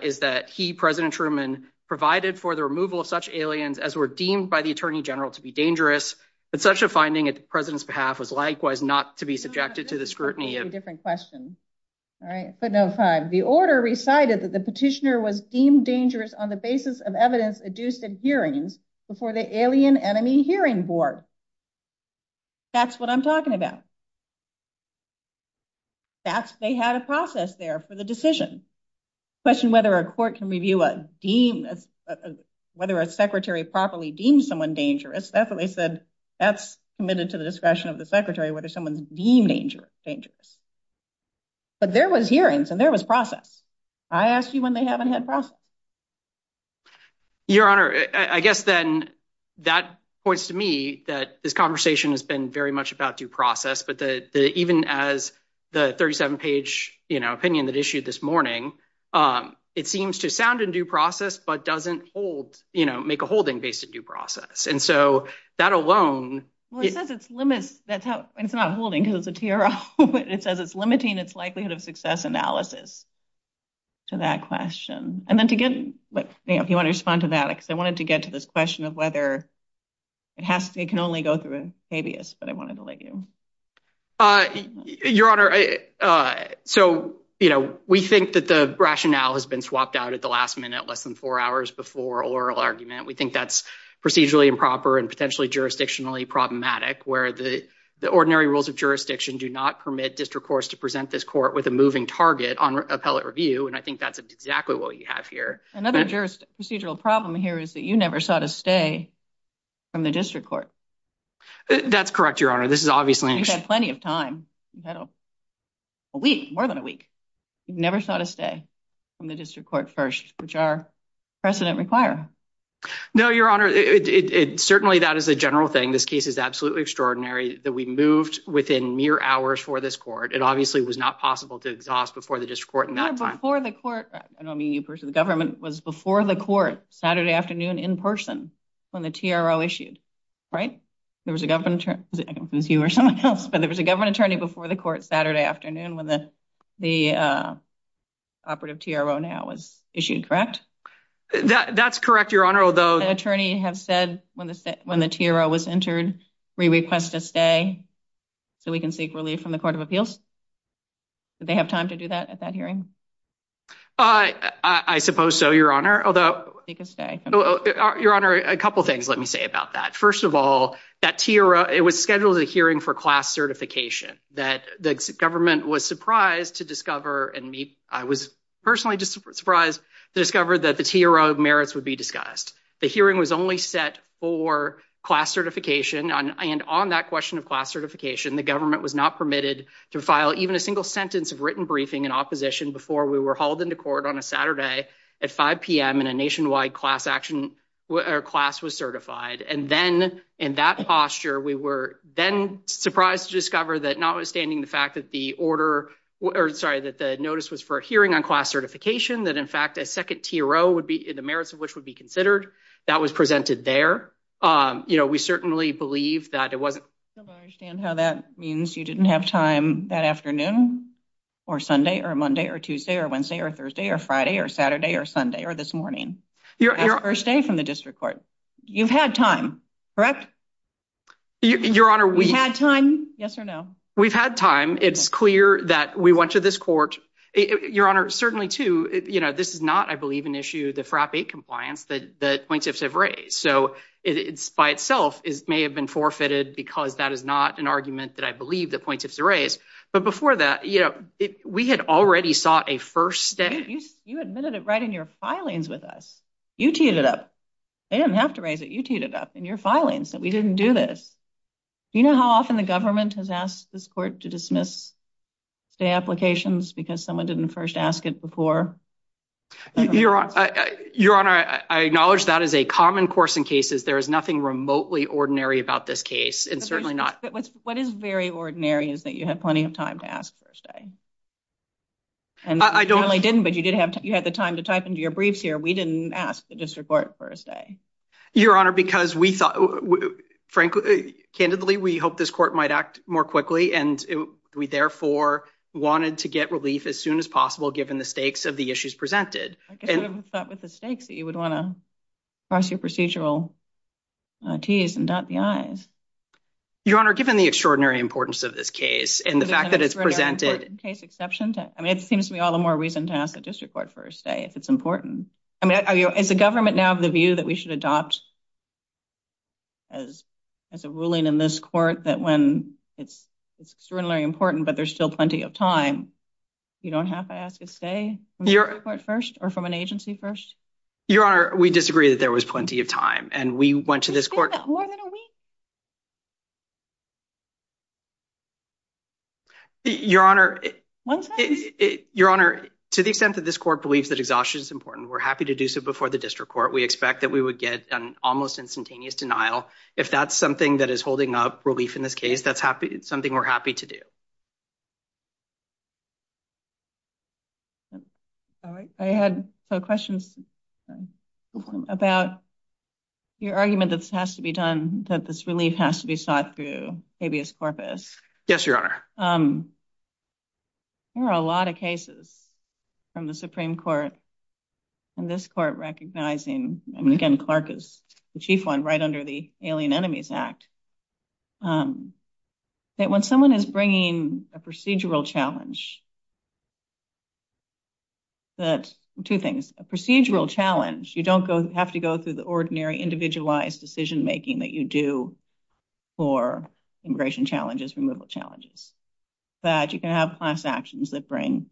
is that he, President Truman, provided for the removal of such aliens as were deemed by the Attorney General to be dangerous. But such a finding, on the President's behalf, was likewise not to be subjected to the scrutiny of… Different question. All right. The order recited that the petitioner was deemed dangerous on the basis of evidence adduced in hearings before the alien enemy hearing board. That's what I'm talking about. They had a process there for the decision. The question whether a court can review a deemed… Whether a secretary properly deemed someone dangerous, that's what they said. That's committed to the discussion of the secretary, whether someone's deemed dangerous. But there was hearings and there was process. I asked you when they haven't had process. Your Honor, I guess then that points to me that this conversation has been very much about due process. But even as the 37-page opinion that issued this morning, it seems to sound in due process but doesn't hold, you know, make a holding based in due process. And so, that alone… Well, it says it limits… It's not holding because it's a TRO. It says it's limiting its likelihood of success analysis to that question. And then to get… If you want to respond to that, because I wanted to get to this question of whether it can only go through habeas, but I wanted to let you. Your Honor, so, you know, we think that the rationale has been swapped out at the last minute, less than four hours before oral argument. We think that's procedurally improper and potentially jurisdictionally problematic where the ordinary rules of jurisdiction do not permit district courts to present this court with a moving target on appellate review. And I think that's exactly what we have here. Another procedural problem here is that you never sought a stay from the district court. That's correct, Your Honor. This is obviously… And you've had plenty of time. You've had a week, more than a week. You've never sought a stay from the district court first, which our precedent requires. No, Your Honor. Certainly, that is a general thing. This case is absolutely extraordinary that we moved within mere hours for this court. It obviously was not possible to exhaust before the district court in that time. Your Honor, before the court… I don't mean you personally. The government was before the court Saturday afternoon in person when the TRO issued, right? There was a government attorney before the court Saturday afternoon when the operative TRO now was issued, correct? That's correct, Your Honor, although… The attorney has said when the TRO was entered, we request a stay so we can seek relief from the Court of Appeals. Did they have time to do that at that hearing? I suppose so, Your Honor, although… Seek a stay. Your Honor, a couple of things let me say about that. First of all, that TRO, it was scheduled a hearing for class certification. The government was surprised to discover and I was personally just surprised to discover that the TRO merits would be discussed. The hearing was only set for class certification. And on that question of class certification, the government was not permitted to file even a single sentence of written briefing in opposition before we were hauled into court on a Saturday at 5 p.m. and a nationwide class was certified. And then in that posture, we were then surprised to discover that notwithstanding the fact that the order… Sorry, that the notice was for a hearing on class certification, that in fact a second TRO would be… The merits of which would be considered, that was presented there. We certainly believe that it wasn't… I don't understand how that means you didn't have time that afternoon or Sunday or Monday or Tuesday or Wednesday or Thursday or Friday or Saturday or Sunday or this morning. Your Honor… That first day from the district court. You had time, correct? Your Honor, we… You had time, yes or no? We've had time. It's clear that we went to this court. Your Honor, certainly, too, this is not, I believe, an issue of the FRAP 8 compliance that plaintiffs have raised. So, by itself, it may have been forfeited because that is not an argument that I believe the plaintiffs raised. But before that, you know, we had already sought a first day. You admitted it right in your filings with us. You teed it up. They didn't have to raise it. You teed it up in your filings that we didn't do this. Do you know how often the government has asked this court to dismiss the applications because someone didn't first ask it before? Your Honor, I acknowledge that is a common course in cases. There is nothing remotely ordinary about this case and certainly not… What is very ordinary is that you had plenty of time to ask first day. I don't… You certainly didn't, but you did have the time to type into your briefs here. We didn't ask the district court first day. Your Honor, because we thought, frankly, candidly, we hoped this court might act more quickly. And we, therefore, wanted to get relief as soon as possible given the stakes of the issues presented. I guess we haven't thought with the stakes that you would want to cross your procedural T's and dot the I's. Your Honor, given the extraordinary importance of this case and the fact that it's presented… I mean, it seems to be all the more reason to ask the district court first day if it's important. I mean, is the government now of the view that we should adopt as a ruling in this court that when it's extraordinarily important, but there's still plenty of time, you don't have to ask it first or from an agency first? Your Honor, we disagree that there was plenty of time, and we went to this court… More than a week? Your Honor… One second. Your Honor, to the extent that this court believes that exhaustion is important, we're happy to do so before the district court. We expect that we would get an almost instantaneous denial. If that's something that is holding up relief in this case, that's something we're happy to do. I had a question about your argument that this has to be done, that this relief has to be sought through habeas corpus. Yes, Your Honor. There are a lot of cases from the Supreme Court and this court recognizing, and again, Clark is the chief one right under the Alien Enemies Act, that when someone is bringing a procedural challenge… …that you can have class actions that bring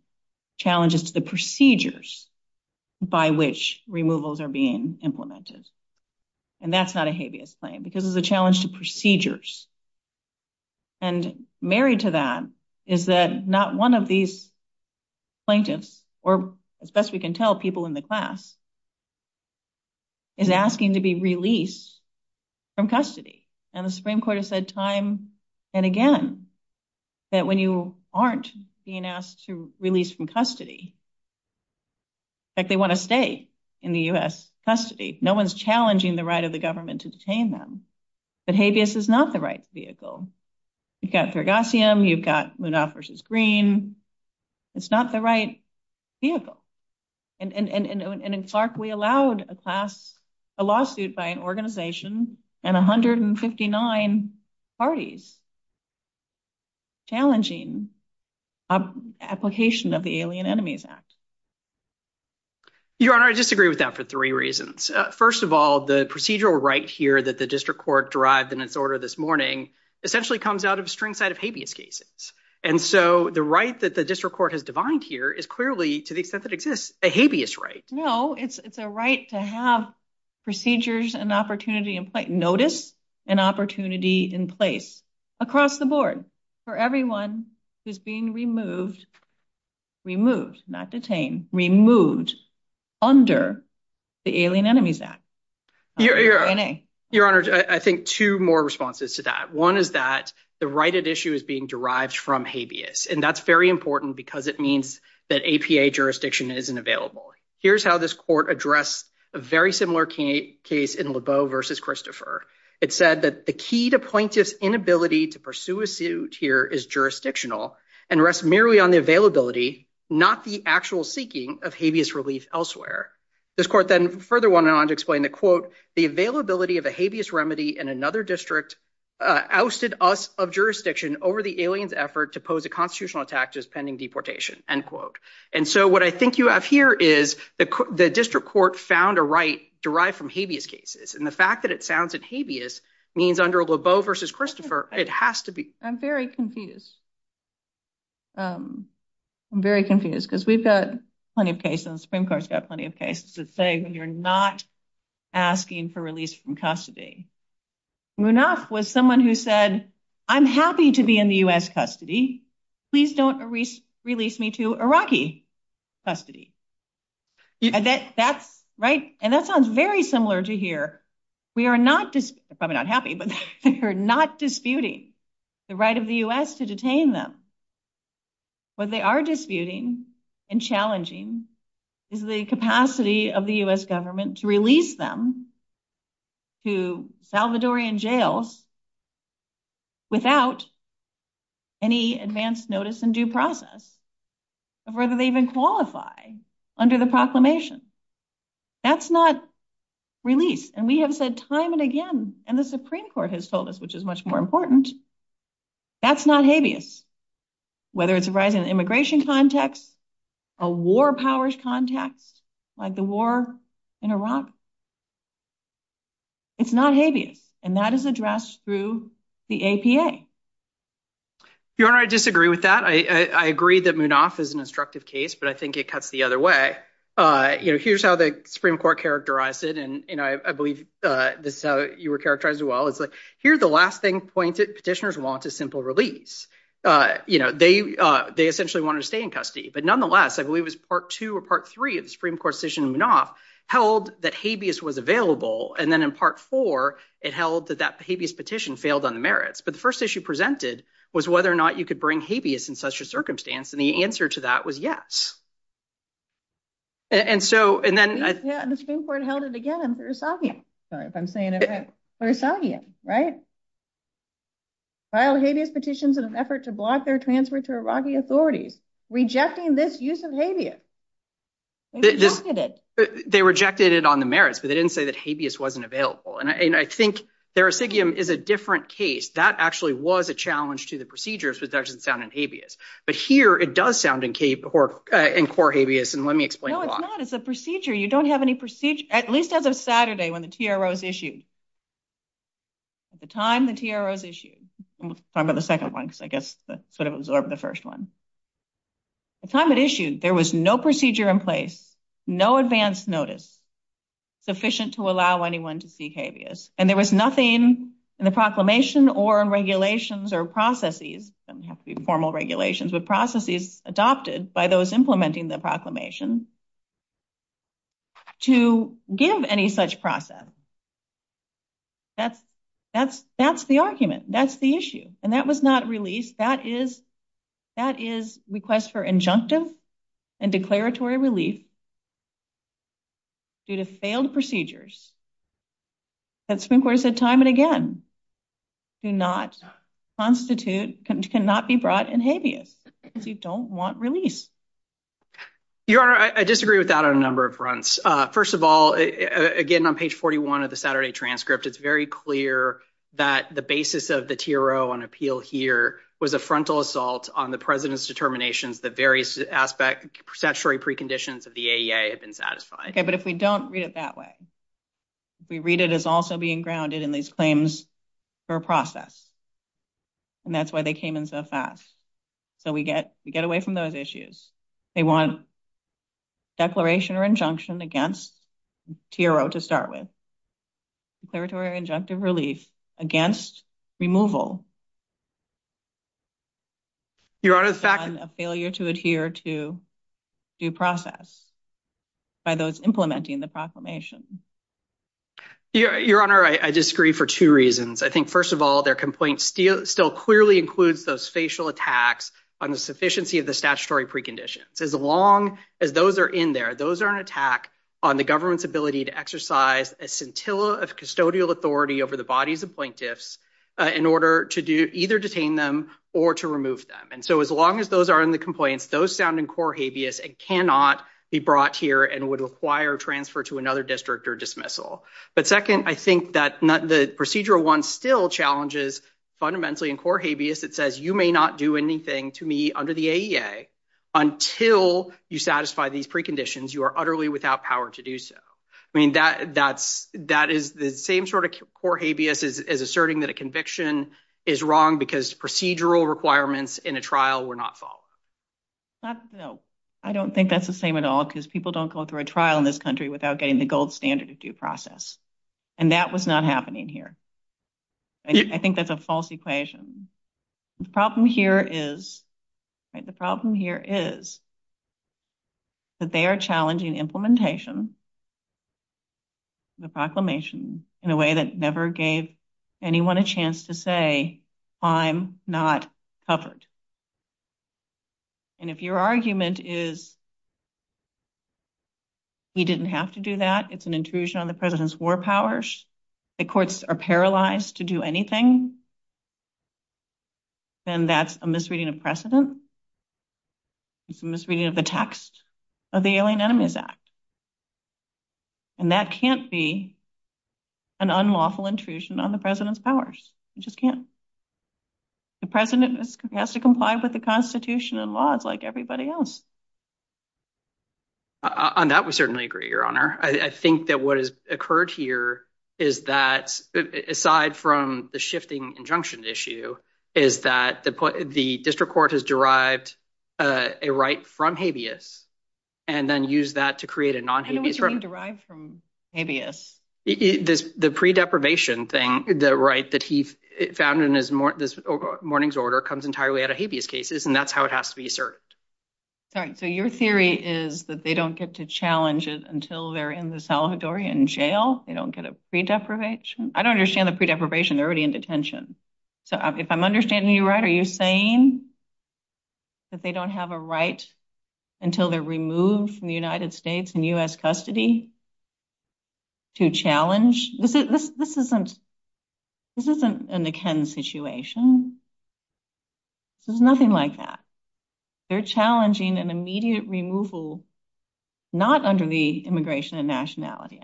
challenges to the procedures by which removals are being implemented. And that's not a habeas claim because it's a challenge to procedures. And married to that is that not one of these plaintiffs, or as best we can tell, people in the class, is asking to be released from custody. And the Supreme Court has said time and again that when you aren't being asked to release from custody, that they want to stay in the U.S. custody. No one's challenging the right of the government to detain them. But habeas is not the right vehicle. You've got Thurgosium, you've got Munoz v. Green. It's not the right vehicle. And in Clark, we allowed a lawsuit by an organization and 159 parties challenging application of the Alien Enemies Act. Your Honor, I disagree with that for three reasons. First of all, the procedural right here that the district court derived in its order this morning essentially comes out of a string set of habeas cases. And so the right that the district court has defined here is clearly, to the extent that it exists, a habeas right. No, it's a right to have procedures and opportunity in place, notice and opportunity in place across the board for everyone who's being removed, removed, not detained, removed under the Alien Enemies Act. Your Honor, I think two more responses to that. One is that the right at issue is being derived from habeas. And that's very important because it means that APA jurisdiction isn't available. Here's how this court addressed a very similar case in Lebeau v. Christopher. It said that the key to plaintiff's inability to pursue a suit here is jurisdictional and rests merely on the availability, not the actual seeking of habeas release elsewhere. This court then further went on to explain that, quote, the availability of a habeas remedy in another district ousted us of jurisdiction over the alien's effort to pose a constitutional tax as pending deportation, end quote. And so what I think you have here is the district court found a right derived from habeas cases. And the fact that it sounds like habeas means under Lebeau v. Christopher, it has to be. I'm very confused. I'm very confused because we've got plenty of cases, Supreme Court's got plenty of cases to say when you're not asking for release from custody. Munaf was someone who said, I'm happy to be in the U.S. custody. Please don't release me to Iraqi custody. And that sounds very similar to here. I'm not happy, but they're not disputing the right of the U.S. to detain them. What they are disputing and challenging is the capacity of the U.S. government to release them to Salvadorian jails without any advance notice and due process of whether they even qualify under the proclamation. That's not release. And we have said time and again, and the Supreme Court has told us, which is much more important. That's not habeas. Whether it's right in an immigration context, a war powers context, like the war in Iraq. It's not habeas. And that is addressed through the APA. Your Honor, I disagree with that. I agree that Munaf is an instructive case, but I think it cuts the other way. Here's how the Supreme Court characterized it, and I believe this is how you were characterized as well. Here's the last thing pointed petitioners want, a simple release. They essentially wanted to stay in custody. But nonetheless, I believe it was part two or part three of the Supreme Court decision in Munaf held that habeas was available. And then in part four, it held that that habeas petition failed on the merits. But the first issue presented was whether or not you could bring habeas in such a circumstance. And the answer to that was yes. And so and then the Supreme Court held it again. I'm sorry if I'm saying it right. I'll hate his petitions in an effort to block their transfer to Iraqi authority, rejecting this use of habeas. They rejected it on the merits, but they didn't say that habeas wasn't available. And I think there is a different case. That actually was a challenge to the procedures. But here it does sound in Cape or in core habeas. And let me explain. It's a procedure. You don't have any procedure, at least other Saturday when the T.R.O. is issued. At the time, the T.R.O. is issued. I'm going to second one, I guess, sort of absorb the first one. The time it issued, there was no procedure in place, no advance notice sufficient to allow anyone to seek habeas. And there was nothing in the proclamation or regulations or processes, formal regulations, but processes adopted by those implementing the proclamation to give any such process. That's the argument. That's the issue. And that was not released. That is that is request for injunctive and declaratory relief. Due to failed procedures. That's been quite a time and again. Do not constitute can not be brought in habeas because you don't want release. Your Honor, I disagree with that on a number of fronts. First of all, again, on page 41 of the Saturday transcript, it's very clear that the basis of the T.R.O. on appeal here was a frontal assault on the president's determination. The various aspect statutory preconditions of the A.A. has been satisfied. But if we don't read it that way, we read it as also being grounded in these claims for a process. And that's why they came in so fast. So we get we get away from those issues. They want. Declaration or injunction against T.R.O. to start with. Declaratory injunctive relief against removal. Your Honor, a failure to adhere to due process. By those implementing the proclamation. Your Honor, I disagree for two reasons. I think, first of all, their complaints still clearly include those facial attacks on the sufficiency of the statutory preconditions. As long as those are in there, those are an attack on the government's ability to exercise a scintilla of custodial authority over the bodies of plaintiffs in order to do either detain them or to remove them. And so as long as those are in the complaints, those sound and core habeas and cannot be brought here and would require transfer to another district or dismissal. But second, I think that the procedural one still challenges fundamentally in core habeas. It says you may not do anything to me under the A.A. until you satisfy these preconditions. You are utterly without power to do so. I mean, that that's that is the same sort of core habeas is asserting that a conviction is wrong because procedural requirements in a trial were not followed. No, I don't think that's the same at all, because people don't go through a trial in this country without getting the gold standard due process. And that was not happening here. I think that's a false equation. The problem here is the problem here is. But they are challenging implementation. The proclamation in a way that never gave anyone a chance to say, I'm not covered. And if your argument is. We didn't have to do that. It's an intrusion on the president's war powers. The courts are paralyzed to do anything. And that's a misreading of precedent. Misreading of the text of the alien enemies. And that can't be an unlawful intrusion on the president's powers. The president has to comply with the Constitution and laws like everybody else. On that, we certainly agree, your honor. I think that what has occurred here is that aside from the shifting injunctions issue is that the, the district court has derived a right from habeas and then use that to create a non derived from. The pre deprivation thing, the right that he found in his morning's order comes entirely out of habeas cases and that's how it has to be served. So, your theory is that they don't get to challenge it until they're in the Salvadorian jail. They don't get a pre deprivation. I don't understand the pre deprivation. They're already in detention. So, if I'm understanding you right, are you saying that they don't have a right until they're removed from the United States and U.S. custody. To challenge this isn't this isn't in the Ken situation. There's nothing like that. They're challenging an immediate removal, not under the immigration and nationality.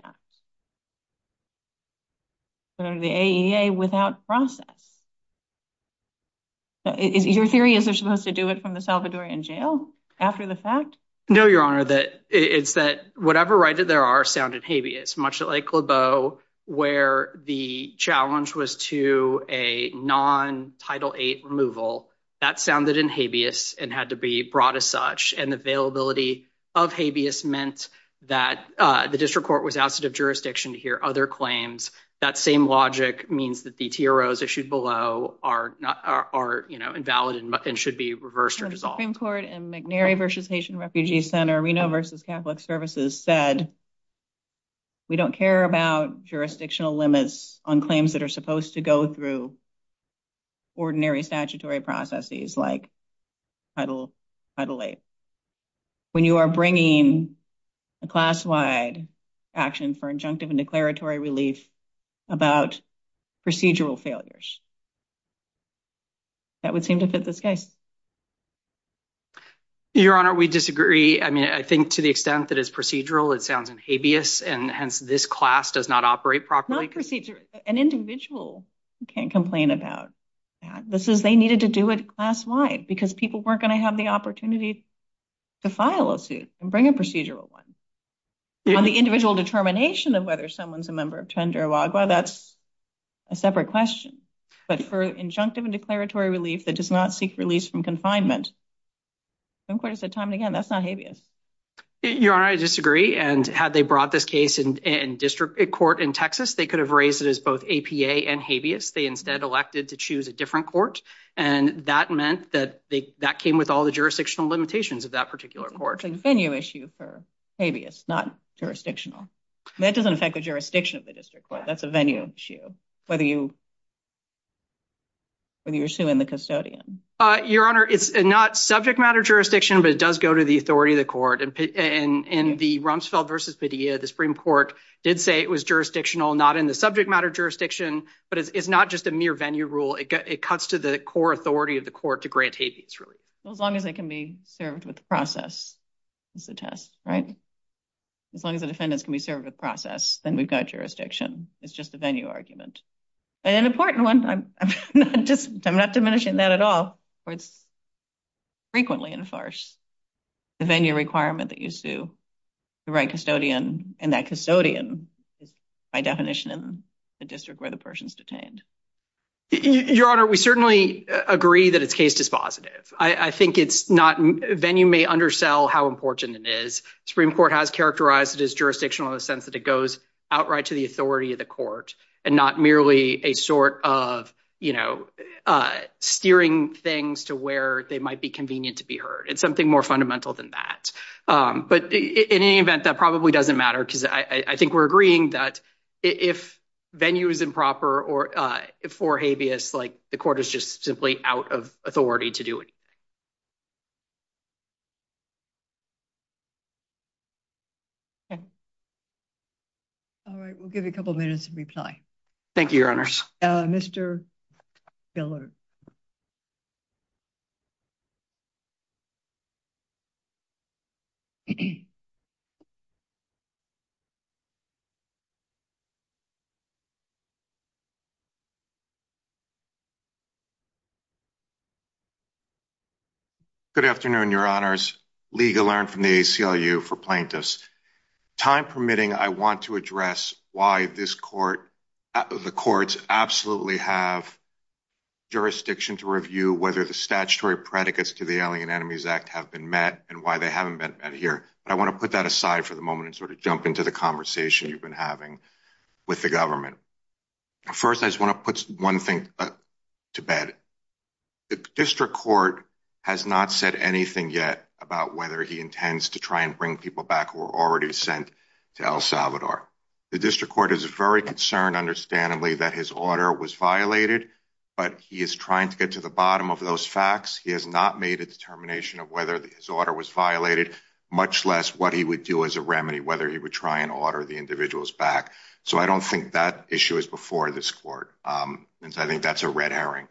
The without process. Your theory is supposed to do it from the Salvadorian jail after the fact. No, your honor that it's that whatever right that there are sounded habeas much like where the challenge was to a non title eight removal. That sounded in habeas and had to be brought as such and availability of habeas meant that the district court was out of jurisdiction to hear other claims. That same logic means that the heroes issued below are are, you know, invalid and should be reversed or dissolved in court and McNary versus National Refugee Center Reno versus Catholic services said. We don't care about jurisdictional limits on claims that are supposed to go through. Ordinary statutory processes like title title eight. When you are bringing a class wide action for injunctive and declaratory relief about procedural failures. That would seem to fit this case. Your honor, we disagree. I mean, I think to the extent that is procedural. It sounds in habeas and this class does not operate properly procedure an individual can't complain about. This is they needed to do it class wide because people weren't going to have the opportunity to file a suit and bring a procedural one. The individual determination of whether someone's a member of that's a separate question, but for injunctive and declaratory relief that does not seek release from confinement. I'm quite a time again. That's not habeas. Your honor, I disagree. And had they brought this case in district court in Texas, they could have raised it as both and habeas. They instead elected to choose a different court. And that meant that that came with all the jurisdictional limitations of that particular court. That's a venue issue for habeas, not jurisdictional. That doesn't affect the jurisdiction of the district court. That's a venue issue. What do you What do you assume in the custodian? Your honor, it's not subject matter jurisdiction, but it does go to the authority of the court and in the Rumsfeld versus Padilla, the Supreme Court did say it was jurisdictional not in the subject matter jurisdiction, but it's not just a mere venue rule. It cuts to the core authority of the court to grant habeas relief. As long as they can be served with the process. It's a test, right? As long as the defendants can be served with process, then we've got jurisdiction. It's just a venue argument. And an important one, I'm not diminishing that at all, but it's frequently in farce. The venue requirement that you sue the right custodian and that custodian by definition in the district where the person's detained. Your honor, we certainly agree that it's case dispositive. I think it's not venue may undersell how important it is. Supreme Court has characterized it as jurisdictional in the sense that it goes outright to the authority of the court and not merely a sort of steering things to where they might be convenient to be heard. It's something more fundamental than that, but in any event, that probably doesn't matter because I think we're agreeing that if venue is improper or for habeas, like, the court is just simply out of authority to do it. All right, we'll give you a couple minutes to reply. Thank you. Your honor. Mr. Good afternoon. Your honors legal learn from the ACLU for plaintiffs time permitting. I want to address why this court, the courts absolutely have jurisdiction to review whether the statutory predicates to the alien enemies act. Have been met and why they haven't been here. I want to put that aside for the moment and sort of jump into the conversation you've been having with the government. First, I just want to put one thing to bed district court has not said anything yet about whether he intends to try and bring people back or already sent to El Salvador. The district court is a very concerned understandably that his order was violated, but he is trying to get to the bottom of those facts. He has not made a determination of whether his order was violated, much less what he would do as a remedy, whether he would try and order the individuals back. So, I don't think that issue is before this court. I think that's a red herring.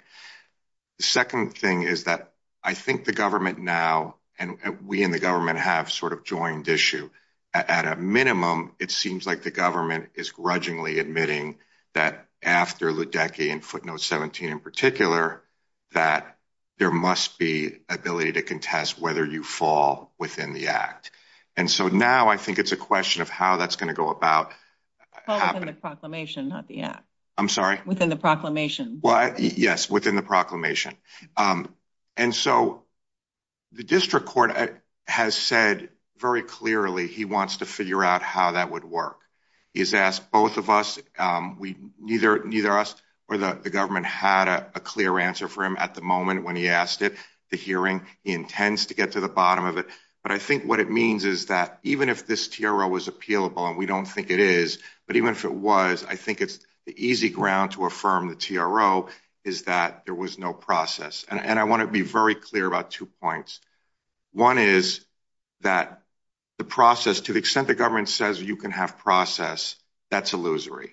The second thing is that I think the government now, and we, and the government have sort of joined issue at a minimum. It seems like the government is grudgingly admitting that after the decade and footnote seventeen in particular, that there must be ability to contest whether you fall within the act. And so now, I think it's a question of how that's gonna go about the proclamation. Yeah, I'm sorry within the proclamation. Yes, within the proclamation. And so the district court has said very clearly he wants to figure out how that would work. He's asked both of us. We either need us, or the government had a clear answer for him at the moment when he asked it the hearing he intends to get to the bottom of it. But I think what it means is that even if this was appealable, and we don't think it is, but even if it was, I think it's easy ground to affirm the is that there was no process and I want to be very clear about two points. One is that the process, to the extent the government says you can have process, that's illusory.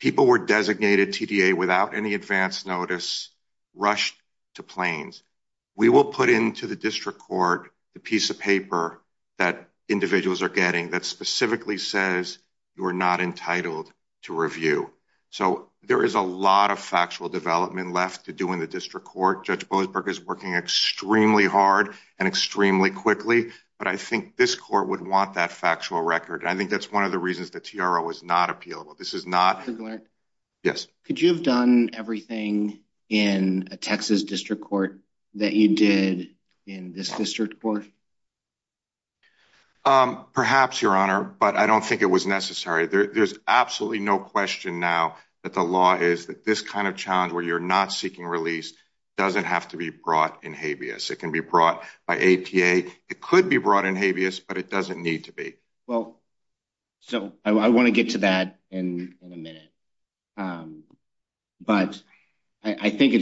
People were designated TDA without any advance notice, rushed to planes. We will put into the district court the piece of paper that individuals are getting that specifically says you are not entitled to review. So, there is a lot of factual development left to do in the district court. Judge Boasberg is working extremely hard and extremely quickly, but I think this court would want that factual record. I think that's one of the reasons the TRO is not appealable. This is not. Yes. Could you have done everything in a Texas district court that you did in this district court? Perhaps, Your Honor, but I don't think it was necessary. There's absolutely no question now that the law is that this kind of challenge where you're not seeking release doesn't have to be brought in habeas. It can be brought by APA. It could be brought in habeas, but it doesn't need to be. Well, so I want to get to that in a minute, but I think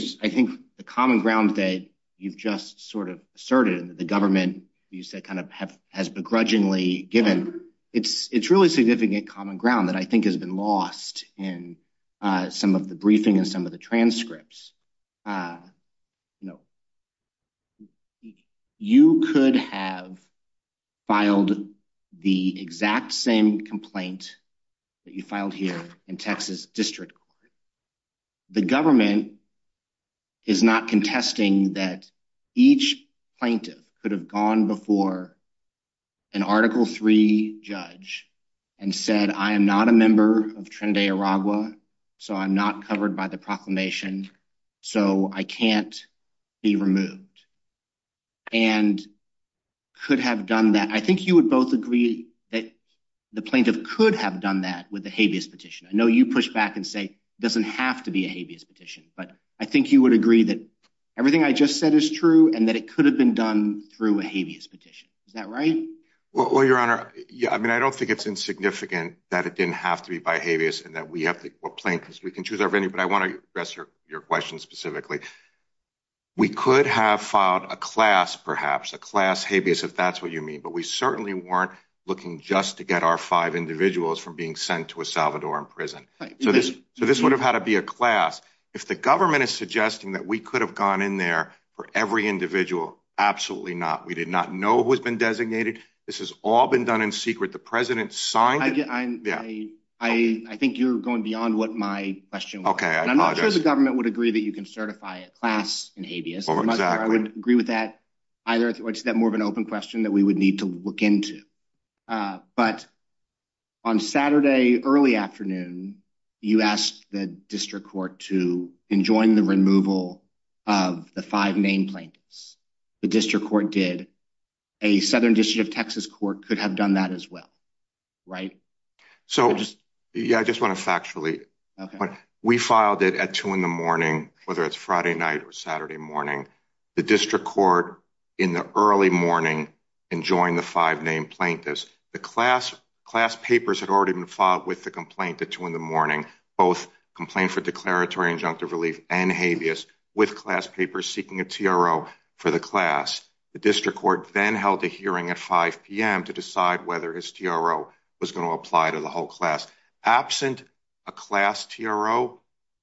the common ground that you've just sort of asserted, the government, you said, kind of has begrudgingly given, it's really significant common ground that I think has been lost in some of the briefing and some of the transcripts. You know, you could have filed the exact same complaint that you filed here in Texas district court. The government is not contesting that each plaintiff could have gone before an Article III judge and said, I am not a member of Trinidad and Arabia, so I'm not covered by the proclamation, so I can't be removed, and could have done that. I think you would both agree that the plaintiff could have done that with the habeas petition. I know you push back and say it doesn't have to be a habeas petition, but I think you would agree that everything I just said is true and that it could have been done through a habeas petition. Is that right? Well, Your Honor, I mean, I don't think it's insignificant that it didn't have to be by habeas and that we have to, we can choose our venue, but I want to address your question specifically. We could have filed a class, perhaps a class habeas, if that's what you mean, but we certainly weren't looking just to get our five individuals from being sent to a Salvadoran prison. So this would have had to be a class. If the government is suggesting that we could have gone in there for every individual, absolutely not. We did not know who has been designated. This has all been done in secret. The president signed it. I think you're going beyond what my question was. And I'm not sure the government would agree that you can certify a class in habeas. I would agree with that either. It's that more of an open question that we would need to look into. But on Saturday, early afternoon, you asked the district court to enjoin the removal of the five main plaintiffs. The district court did a Southern District of Texas court could have done that as well. Right? So, yeah, I just want to actually, we filed it at two in the morning, whether it's Friday night or Saturday morning, the district court in the early morning and join the five main plaintiffs. The class class papers had already been filed with the complaint to two in the morning, both complaint for declaratory injunctive relief and habeas with class papers, seeking a TRO for the class. The district court then held a hearing at five PM to decide whether his TRO was going to apply to the whole class absent a class TRO.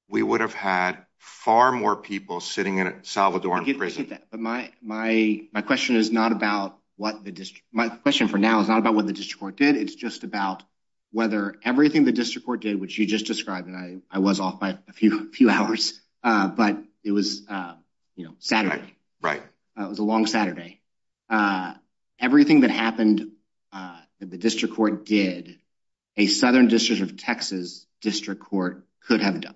We would have had far more people sitting in a Salvadoran. But my, my, my question is not about what the district my question for now is not about what the district court did. It's just about whether everything the district court did, which you just described that I was off by a few hours, but it was Saturday. Right? It was a long Saturday. Everything that happened, the district court did a Southern District of Texas district court could have done.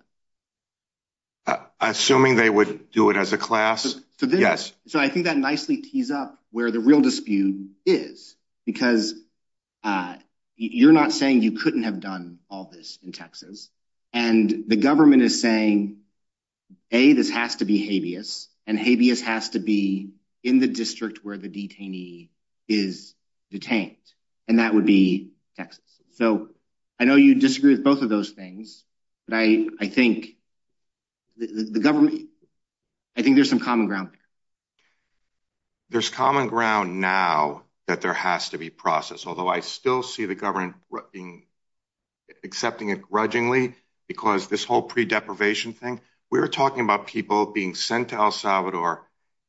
Assuming they would do it as a class. Yes. So I think that nicely tees up where the real dispute is, because you're not saying you couldn't have done all this in Texas. And the government is saying, hey, this has to be habeas and habeas has to be in the district where the detainee is detained. And that would be so I know you disagree with both of those things, but I, I think the government, I think there's some common ground. There's common ground now that there has to be process, although I still see the government accepting it grudgingly because this whole pre deprivation thing we were talking about people being sent to El Salvador.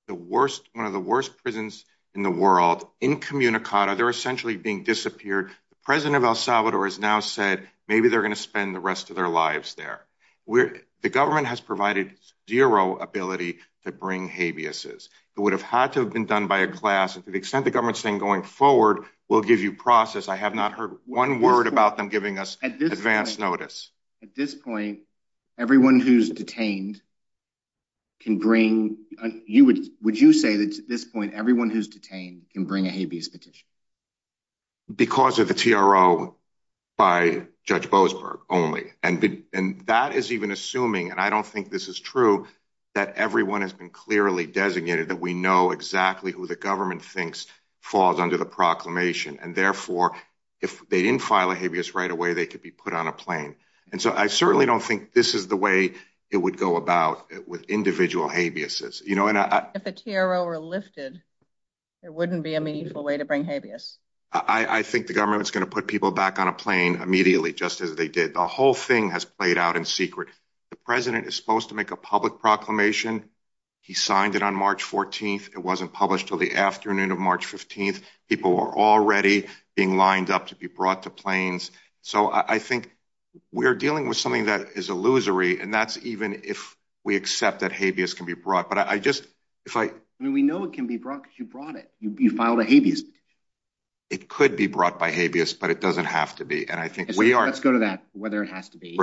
The worst, one of the worst prisons in the world in Communicado, they're essentially being disappeared. The president of El Salvador has now said, maybe they're going to spend the rest of their lives there. The government has provided zero ability to bring habeas. It would have had to have been done by a class and to the extent the government's thing going forward will give you process. I have not heard one word about them giving us advance notice. At this point, everyone who's detained can bring you would you say that at this point, everyone who's detained can bring a habeas petition. Because of the TRO by Judge Boasberg only, and that is even assuming and I don't think this is true that everyone has been clearly designated that we know exactly who the government thinks falls under the proclamation. And therefore, if they didn't file a habeas right away, they could be put on a plane. And so I certainly don't think this is the way it would go about with individual habeas. If the TRO were lifted, it wouldn't be a meaningful way to bring habeas. I think the government's going to put people back on a plane immediately just as they did. The whole thing has played out in secret. The president is supposed to make a public proclamation. He signed it on March 14th. It wasn't published till the afternoon of March 15th. People are already being lined up to be brought to planes. So I think we're dealing with something that is illusory. And that's even if we accept that habeas can be brought. We know it can be brought because you brought it. You filed a habeas. It could be brought by habeas, but it doesn't have to be. Let's go to that, whether it has to be.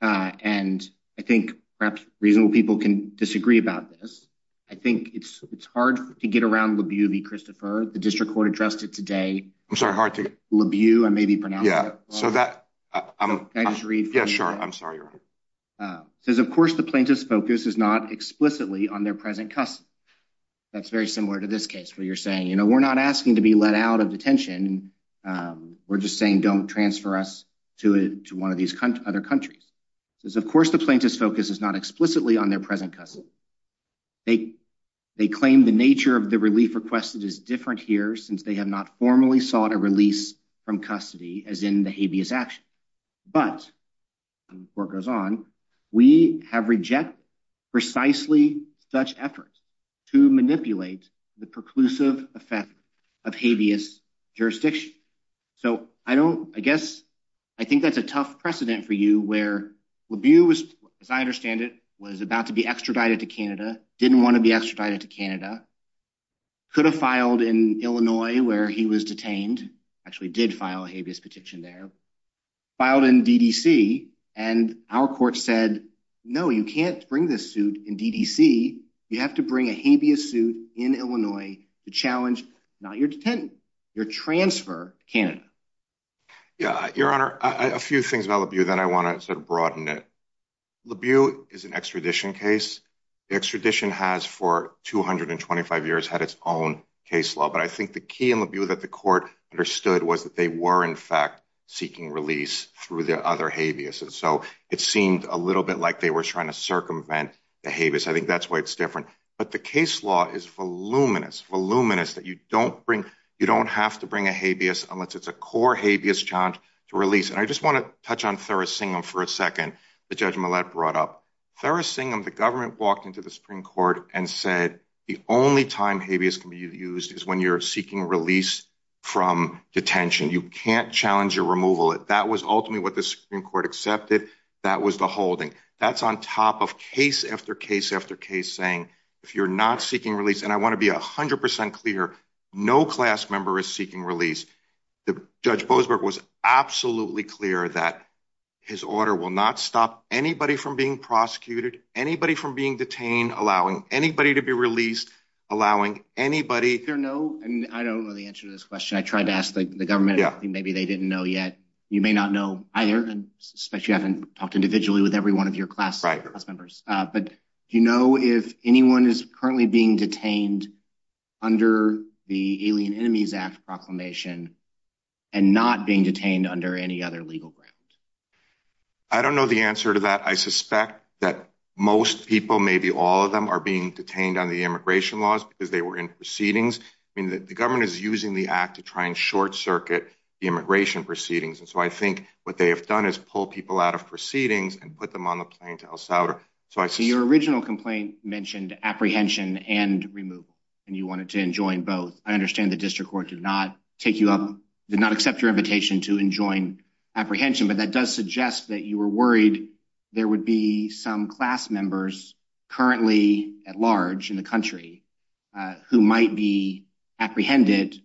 And I think perhaps reasonable people can disagree about this. I think it's hard to get around LaBeau v. Christopher. The district court addressed it today. LaBeau, I may be pronouncing it wrong. Can I just read? Yeah, sure. I'm sorry. It says, of course, the plaintiff's focus is not explicitly on their present custody. That's very similar to this case where you're saying, you know, we're not asking to be let out of detention. We're just saying don't transfer us to one of these other countries. It says, of course, the plaintiff's focus is not explicitly on their present custody. They claim the nature of the relief requested is different here since they have not formally sought a release from custody as in the habeas action. But, the court goes on, we have rejected precisely such efforts to manipulate the preclusive effect of habeas jurisdiction. So I don't, I guess, I think that's a tough precedent for you where LaBeau, as I understand it, was about to be extradited to Canada. Could have filed in Illinois where he was detained. Actually did file a habeas petition there. Filed in D.D.C. and our court said, no, you can't bring this suit in D.D.C. You have to bring a habeas suit in Illinois to challenge, not your detentant, your transfer to Canada. Yeah, Your Honor, a few things about LaBeau that I want to sort of broaden it. LaBeau is an extradition case. The extradition has, for 225 years, had its own case law. But I think the key in LaBeau that the court understood was that they were, in fact, seeking release through their other habeas. And so it seemed a little bit like they were trying to circumvent the habeas. I think that's why it's different. But the case law is voluminous, voluminous, that you don't bring, you don't have to bring a habeas unless it's a core habeas challenge to release. And I just want to touch on Thursingham for a second that Judge Millett brought up. Thursingham, the government, walked into the Supreme Court and said, the only time habeas can be used is when you're seeking release from detention. You can't challenge your removal. That was ultimately what the Supreme Court accepted. That was the holding. That's on top of case after case after case saying, if you're not seeking release, and I want to be 100 percent clear, no class member is seeking release. Judge Bosberg was absolutely clear that his order will not stop anybody from being prosecuted, anybody from being detained, allowing anybody to be released, allowing anybody. I don't know the answer to this question. I tried to ask the government. Maybe they didn't know yet. You may not know either, especially if you haven't talked individually with every one of your class members. But do you know if anyone is currently being detained under the Alien Enemies Act proclamation and not being detained under any other legal grounds? I don't know the answer to that. I suspect that most people, maybe all of them, are being detained on the immigration laws because they were in proceedings. The government is using the act to try and short circuit the immigration proceedings. And so I think what they have done is pull people out of proceedings and put them on the plane to El Salvador. Your original complaint mentioned apprehension and removal. And you wanted to enjoin both. I understand the district court did not take you up, did not accept your invitation to enjoin apprehension. But that does suggest that you were worried there would be some class members currently at large in the country who might be apprehended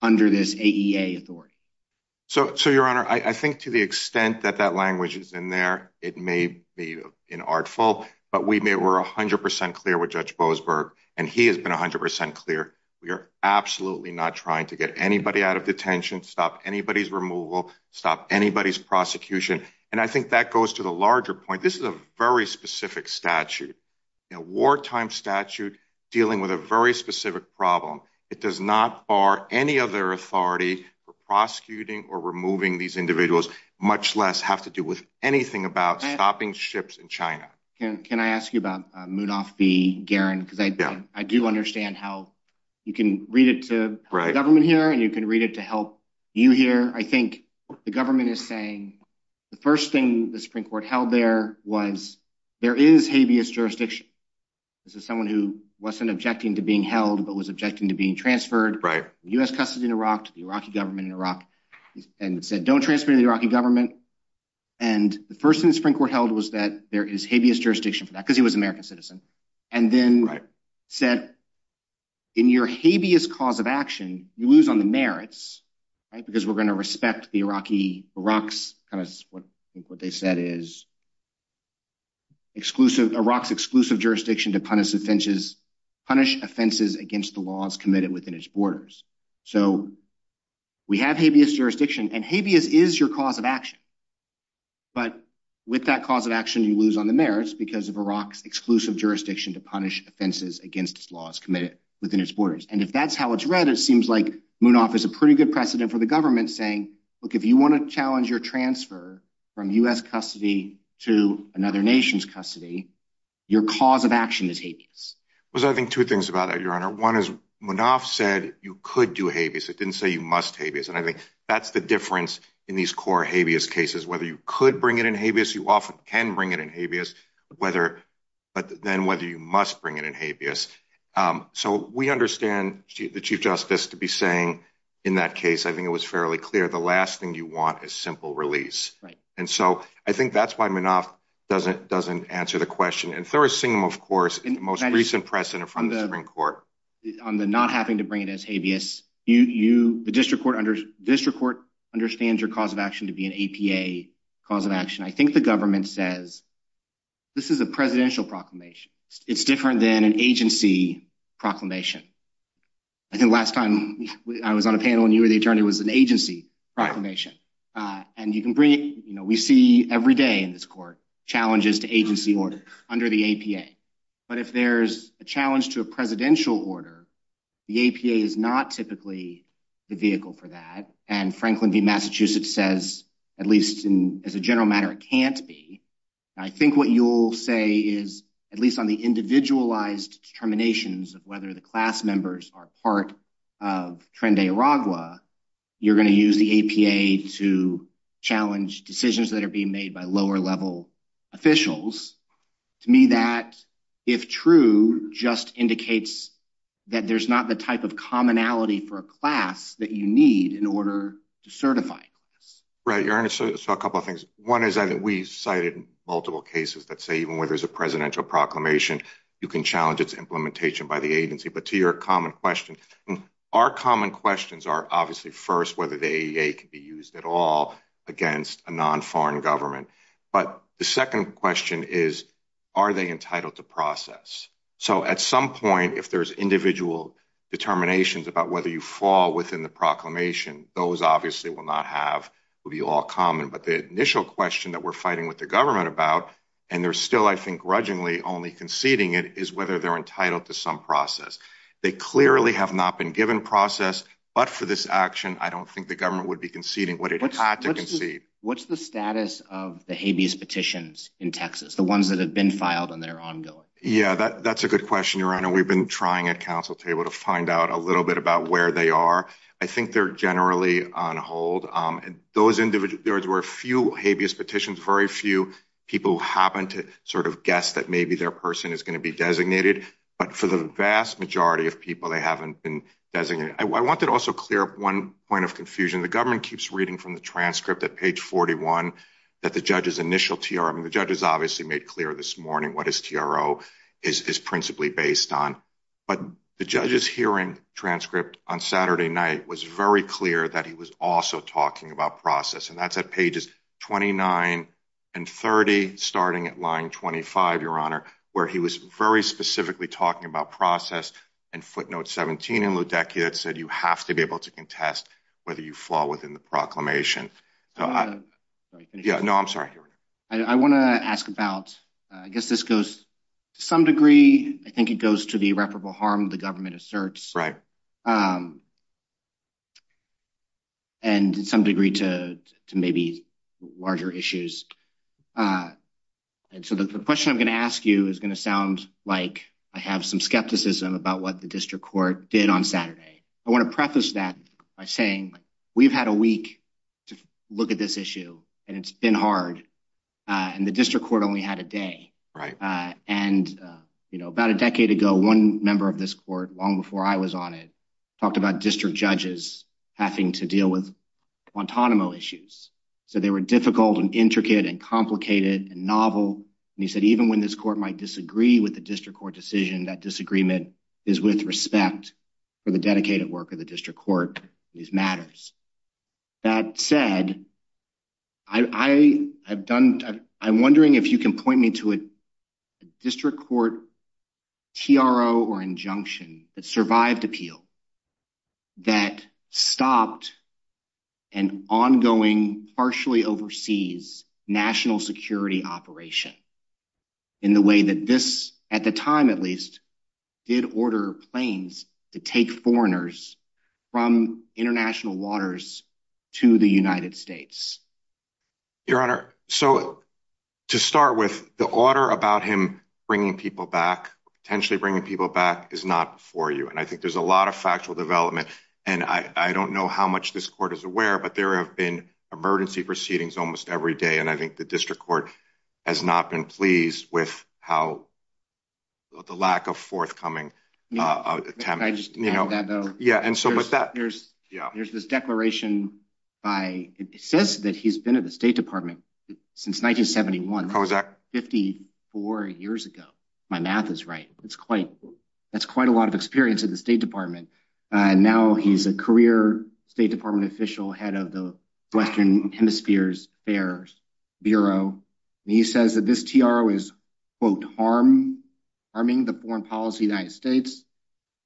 under this AEA authority. So, Your Honor, I think to the extent that that language is in there, it may be an artful. But we were 100% clear with Judge Boasberg, and he has been 100% clear. We are absolutely not trying to get anybody out of detention, stop anybody's removal, stop anybody's prosecution. And I think that goes to the larger point. This is a very specific statute, a wartime statute dealing with a very specific problem. It does not bar any other authority for prosecuting or removing these individuals, much less have to do with anything about stopping ships in China. Can I ask you about Mudoff v. Guerin? Because I do understand how you can read it to the government here and you can read it to help you here. I think the government is saying the first thing the Supreme Court held there was there is habeas jurisdiction. This is someone who wasn't objecting to being held but was objecting to being transferred. U.S. custody in Iraq to the Iraqi government in Iraq and said don't transfer to the Iraqi government. And the first thing the Supreme Court held was that there is habeas jurisdiction for that because he was an American citizen. And then said in your habeas cause of action, you lose on the merits because we're going to respect the Iraqi, what they said is Iraq's exclusive jurisdiction to punish offenses against the laws committed within its borders. So we have habeas jurisdiction and habeas is your cause of action. But with that cause of action, you lose on the merits because of Iraq's exclusive jurisdiction to punish offenses against laws committed within its borders. And if that's how it's read, it seems like Mudoff is a pretty good precedent for the government saying, look, if you want to challenge your transfer from U.S. custody to another nation's custody, your cause of action is habeas. Well, I think two things about that, Your Honor. One is Mudoff said you could do habeas. It didn't say you must habeas. And I think that's the difference in these core habeas cases. Whether you could bring it in habeas, you often can bring it in habeas. But then whether you must bring it in habeas. So we understand the Chief Justice to be saying in that case, I think it was fairly clear the last thing you want is simple release. And so I think that's why Mudoff doesn't answer the question. And Thurston, of course, in the most recent precedent from the Supreme Court. On the not having to bring it in as habeas, the district court understands your cause of action to be an APA cause of action. I think the government says this is a presidential proclamation. It's different than an agency proclamation. I think last time I was on a panel and you were the attorney, it was an agency proclamation. And you can bring it in. We see every day in this court challenges to agency orders under the APA. But if there's a challenge to a presidential order, the APA is not typically the vehicle for that. And Franklin v. Massachusetts says, at least as a general matter, it can't be. I think what you'll say is, at least on the individualized determinations of whether the class members are part of Tren de Aragua, you're going to use the APA to challenge decisions that are being made by lower level officials. To me, that, if true, just indicates that there's not the type of commonality for a class that you need in order to certify. Right, your Honor, so a couple of things. One is that we cited multiple cases that say even when there's a presidential proclamation, you can challenge its implementation by the agency. But to your common question, our common questions are obviously first whether the AEA can be used at all against a non-foreign government. But the second question is, are they entitled to process? So at some point, if there's individual determinations about whether you fall within the proclamation, those obviously will not be all common. But the initial question that we're fighting with the government about, and they're still, I think, grudgingly only conceding it, is whether they're entitled to some process. They clearly have not been given process, but for this action, I don't think the government would be conceding what it had to concede. What's the status of the habeas petitions in Texas, the ones that have been filed and that are ongoing? Yeah, that's a good question, your Honor. We've been trying at counsel table to find out a little bit about where they are. I think they're generally on hold. There were a few habeas petitions, very few people who happened to sort of guess that maybe their person is going to be designated. But for the vast majority of people, they haven't been designated. I want to also clear up one point of confusion. The government keeps reading from the transcript at page 41 that the judge's initial TRO, I mean, the judge has obviously made clear this morning what his TRO is principally based on. But the judge's hearing transcript on Saturday night was very clear that he was also talking about process. And that's at pages 29 and 30, starting at line 25, your Honor, where he was very specifically talking about process. And footnote 17 in ludicrous said you have to be able to contest whether you fall within the proclamation. Yeah, no, I'm sorry. I want to ask about, I guess this goes to some degree, I think it goes to the irreparable harm the government asserts. And some degree to maybe larger issues. And so the question I'm going to ask you is going to sound like I have some skepticism about what the district court did on Saturday. I want to preface that by saying we've had a week to look at this issue and it's been hard. And the district court only had a day. And, you know, about a decade ago, one member of this court long before I was on it, talked about district judges having to deal with Guantanamo issues. So they were difficult and intricate and complicated and novel. And he said even when this court might disagree with the district court decision, that disagreement is with respect for the dedicated work of the district court on these matters. That said, I'm wondering if you can point me to a district court PRO or injunction that survived appeal, that stopped an ongoing, partially overseas national security operation in the way that this, at the time at least, did order planes to take foreigners from international waters to the United States. Your Honor, so to start with the order about him bringing people back, potentially bringing people back is not for you. And I think there's a lot of factual development. And I don't know how much this court is aware, but there have been emergency proceedings almost every day. And I think the district court has not been pleased with how the lack of forthcoming, you know, yeah. And so there's this declaration by, it says that he's been in the State Department since 1971, 54 years ago. My math is right. It's quite, that's quite a lot of experience in the State Department. And now he's a career State Department official, head of the Western Hemispheres Affairs Bureau. And he says that this TRO is, quote, harm, harming the foreign policy of the United States.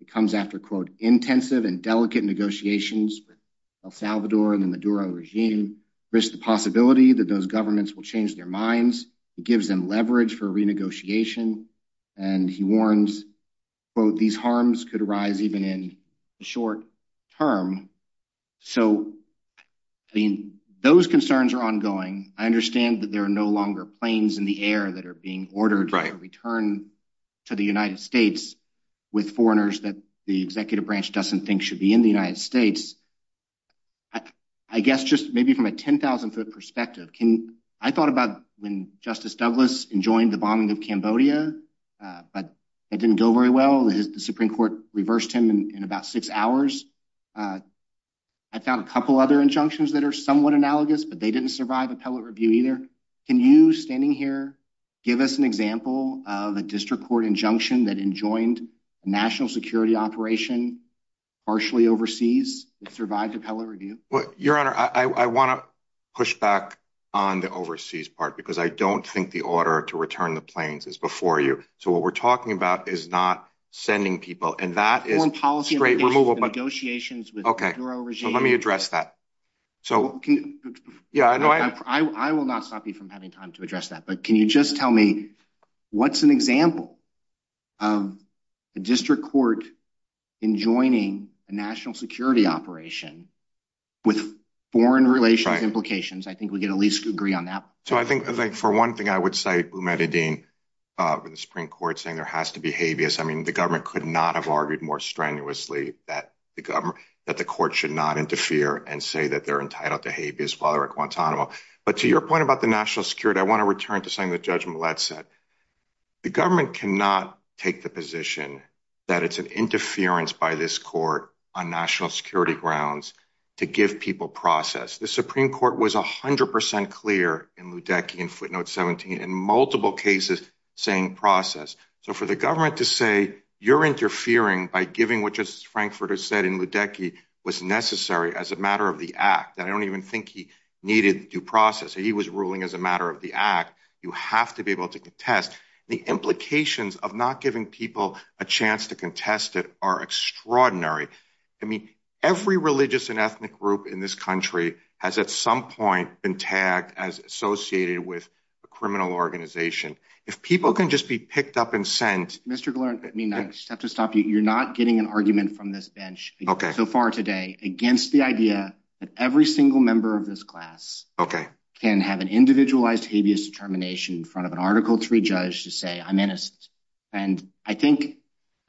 It comes after, quote, intensive and delicate negotiations with El Salvador and the Maduro regime, risks the possibility that those governments will change their minds. It gives them leverage for renegotiation. And he warns, quote, these harms could arise even in the short term. So those concerns are ongoing. I understand that there are no longer planes in the air that are being ordered to return to the United States with foreigners that the executive branch doesn't think should be in the United States. I guess just maybe from a 10,000-foot perspective, can, I thought about when Justice Douglas enjoined the bombing of Cambodia, but it didn't go very well. The Supreme Court reversed him in about six hours. I found a couple other injunctions that are somewhat analogous, but they didn't survive appellate review either. Can you, standing here, give us an example of a district court injunction that enjoined a national security operation, partially overseas, that survived appellate review? Your Honor, I want to push back on the overseas part, because I don't think the order to return the planes is before you. So what we're talking about is not sending people. Foreign policy negotiations with the Maduro regime. Let me address that. I will not stop you from having time to address that, but can you just tell me what's an example of a district court enjoining a national security operation with foreign relations implications? I think we can at least agree on that. So I think, for one thing, I would cite Umeda Dean, the Supreme Court, saying there has to be habeas. I mean, the government could not have argued more strenuously that the court should not interfere and say that they're entitled to habeas father at Guantanamo. But to your point about the national security, I want to return to something that Judge Millett said. The government cannot take the position that it's an interference by this court on national security grounds to give people process. The Supreme Court was 100 percent clear in Ludecky and footnote 17 in multiple cases saying process. So for the government to say you're interfering by giving what Justice Frankfurter said in Ludecky was necessary as a matter of the act. I don't even think he needed due process. He was ruling as a matter of the act. You have to be able to contest. The implications of not giving people a chance to contest it are extraordinary. I mean, every religious and ethnic group in this country has at some point been tagged as associated with a criminal organization. If people can just be picked up and sent. Mr. Glenn, I mean, I have to stop you. You're not getting an argument from this bench so far today against the idea that every single member of this class can have an individualized habeas determination in front of an article three judge to say I'm innocent. And I think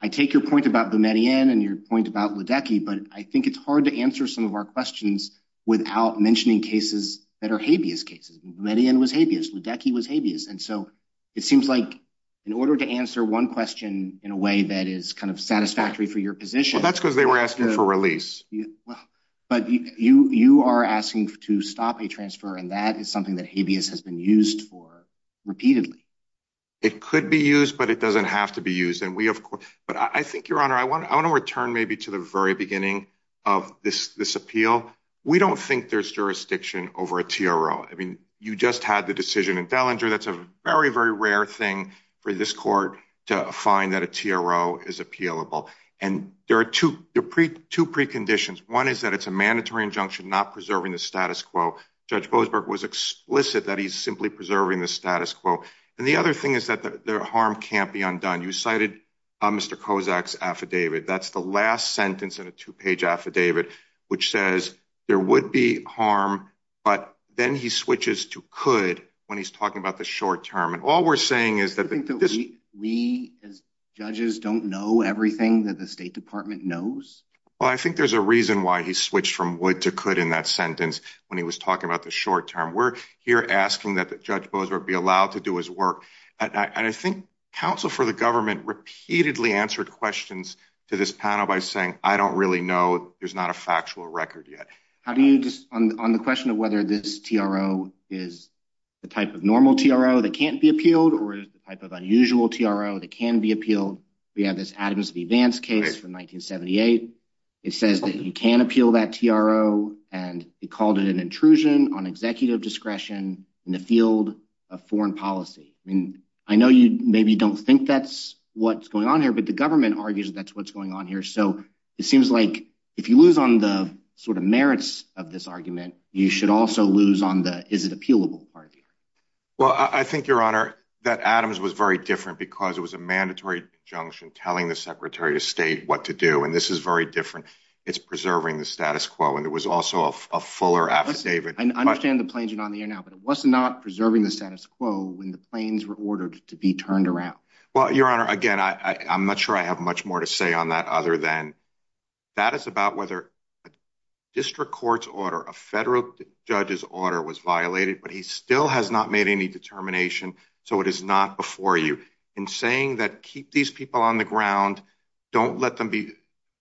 I take your point about the Median and your point about Ludecky. But I think it's hard to answer some of our questions without mentioning cases that are habeas cases. Median was habeas. Ludecky was habeas. And so it seems like in order to answer one question in a way that is kind of satisfactory for your position. That's because they were asking for release. But you are asking to stop a transfer. And that is something that habeas has been used for repeatedly. It could be used, but it doesn't have to be used. But I think, Your Honor, I want to return maybe to the very beginning of this appeal. We don't think there's jurisdiction over a TRO. I mean, you just had the decision in Bellinger. That's a very, very rare thing for this court to find that a TRO is appealable. And there are two preconditions. One is that it's a mandatory injunction not preserving the status quo. Judge Boasberg was explicit that he's simply preserving the status quo. And the other thing is that the harm can't be undone. You cited Mr. Kozak's affidavit. That's the last sentence in a two-page affidavit, which says there would be harm, but then he switches to could when he's talking about the short term. And all we're saying is that... Do you think that we as judges don't know everything that the State Department knows? Well, I think there's a reason why he switched from would to could in that sentence when he was talking about the short term. We're here asking that Judge Boasberg be allowed to do his work. And I think counsel for the government repeatedly answered questions to this panel by saying, I don't really know. There's not a factual record yet. On the question of whether this TRO is the type of normal TRO that can't be appealed or the type of unusual TRO that can be appealed, we have this Adams v. Vance case from 1978. It says that you can appeal that TRO, and he called it an intrusion on executive discretion in the field of foreign policy. I know you maybe don't think that's what's going on here, but the government argues that's what's going on here. So it seems like if you lose on the sort of merits of this argument, you should also lose on the is it appealable argument. Well, I think, Your Honor, that Adams was very different because it was a mandatory conjunction telling the Secretary of State what to do. It was very different. It's preserving the status quo. And it was also a fuller affidavit. I understand the claims are not on the air now, but it was not preserving the status quo when the claims were ordered to be turned around. Well, Your Honor, again, I'm not sure I have much more to say on that other than that is about whether a district court's order, a federal judge's order was violated, but he still has not made any determination. So it is not before you. In saying that, keep these people on the ground. Don't let them be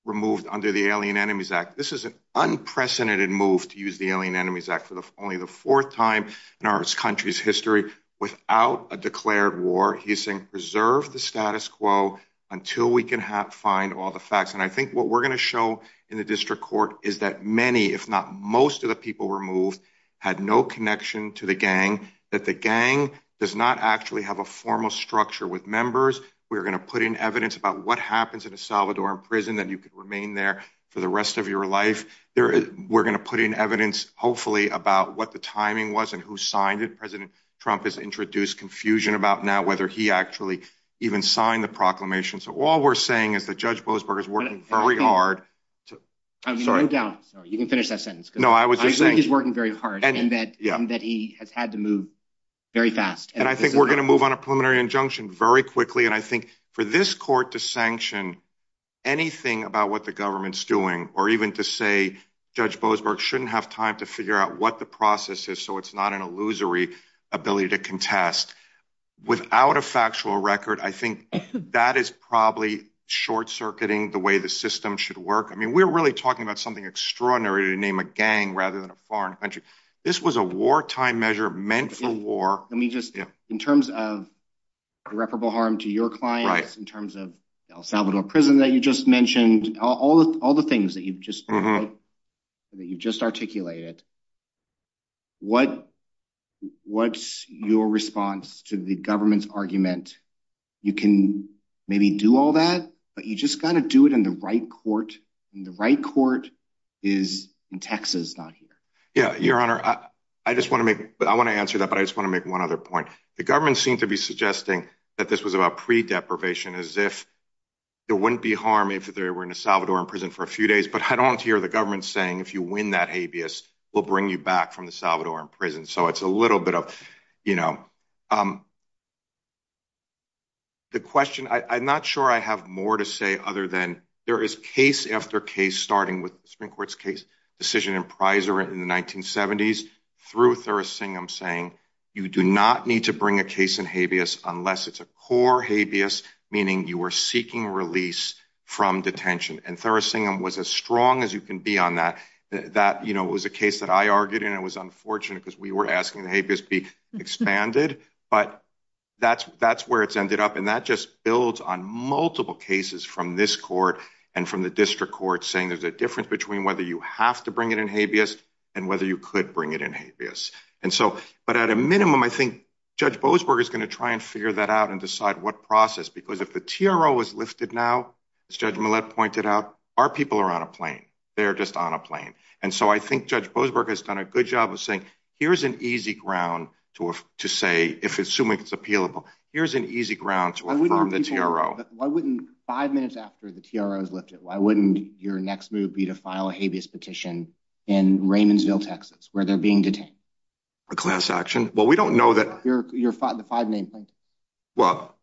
removed under the Alien Enemies Act. This is an unprecedented move to use the Alien Enemies Act for only the fourth time in our country's history without a declared war. He's saying preserve the status quo until we can find all the facts. And I think what we're going to show in the district court is that many, if not most of the people removed had no connection to the gang, meaning that the gang does not actually have a formal structure with members. We're going to put in evidence about what happens in a Salvadoran prison that you could remain there for the rest of your life. We're going to put in evidence, hopefully, about what the timing was and who signed it. President Trump has introduced confusion about now whether he actually even signed the proclamation. So all we're saying is that Judge Blisberg is working very hard. You can finish that sentence. He's working very hard and that he has had to move very fast. And I think we're going to move on a preliminary injunction very quickly. And I think for this court to sanction anything about what the government's doing or even to say Judge Blisberg shouldn't have time to figure out what the process is so it's not an illusory ability to contest without a factual record, I think that is probably short-circuiting the way the system should work. I mean, we're really talking about something extraordinary to name a gang rather than a foreign country. This was a wartime measure meant for war. Let me just, in terms of irreparable harm to your clients, in terms of the Salvadoran prison that you just mentioned, all the things that you've just articulated, what's your response to the government's argument? You can maybe do all that, but you've just got to do it in the right court and the right court is in Texas, not here. Yeah, Your Honor, I just want to make, I want to answer that, but I just want to make one other point. The government seemed to be suggesting that this was about pre-deprivation as if there wouldn't be harm if they were in a Salvadoran prison for a few days, but I don't want to hear the government saying if you win that habeas, we'll bring you back from the Salvadoran prison. So it's a little bit of, you know, the question, I'm not sure I have more to say other than there is case after case, starting with the Supreme Court's case decision in Prisor in the 1970s, through Thursingham saying, you do not need to bring a case in habeas unless it's a core habeas, meaning you are seeking release from detention. And Thursingham was as strong as you can be on that. That was a case that I argued and it was unfortunate because we were asking the habeas be expanded, but that's where it's ended up. And that just builds on multiple cases from this court and from the district court saying there's a difference between whether you have to bring it in habeas and whether you could bring it in habeas. And so, but at a minimum, I think Judge Boasberg is going to try and figure that out and decide what process, because if the TRO is lifted now, as Judge Millett pointed out, our people are on a plane. They're just on a plane. And so I think Judge Boasberg has done a good job of saying, here's an easy ground to say, if assuming it's appealable, here's an easy ground to affirm the TRO. Why wouldn't five minutes after the TRO is lifted, why wouldn't your next move be to file a habeas petition in Raymondsville, Texas, where they're being detained? A class action? Well, we don't know that. Your five-name plan. Well,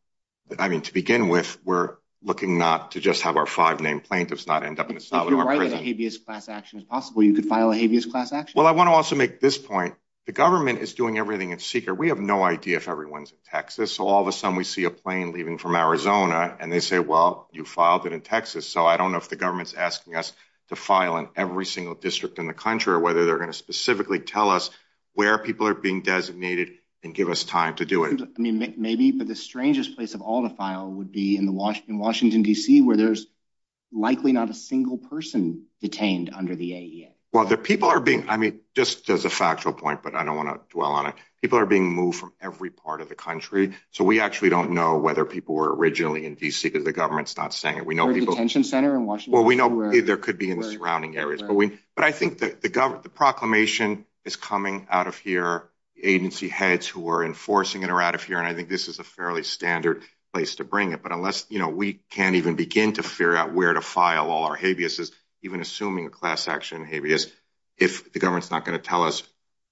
I mean, to begin with, we're looking not to just have our five-name plan. It does not end up in the style of our prison. If you write a habeas class action as possible, you could file a habeas class action. At this point, the government is doing everything in secret. We have no idea if everyone's in Texas. So all of a sudden we see a plane leaving from Arizona, and they say, well, you filed it in Texas. So I don't know if the government's asking us to file in every single district in the country or whether they're going to specifically tell us where people are being designated and give us time to do it. I mean, maybe the strangest place of all to file would be in Washington, D.C., where there's likely not a single person detained under the AEA. Well, the people are being, I mean, I don't want to dwell on this point, but I don't want to dwell on it. People are being moved from every part of the country. So we actually don't know whether people were originally in D.C. because the government's not saying it. We know people... Well, we know there could be in the surrounding areas. But I think the proclamation is coming out of here. The agency heads who are enforcing it are out of here, and I think this is a fairly standard place to bring it. But unless we can't even begin to figure out where to file all our habeas, even assuming class action habeas,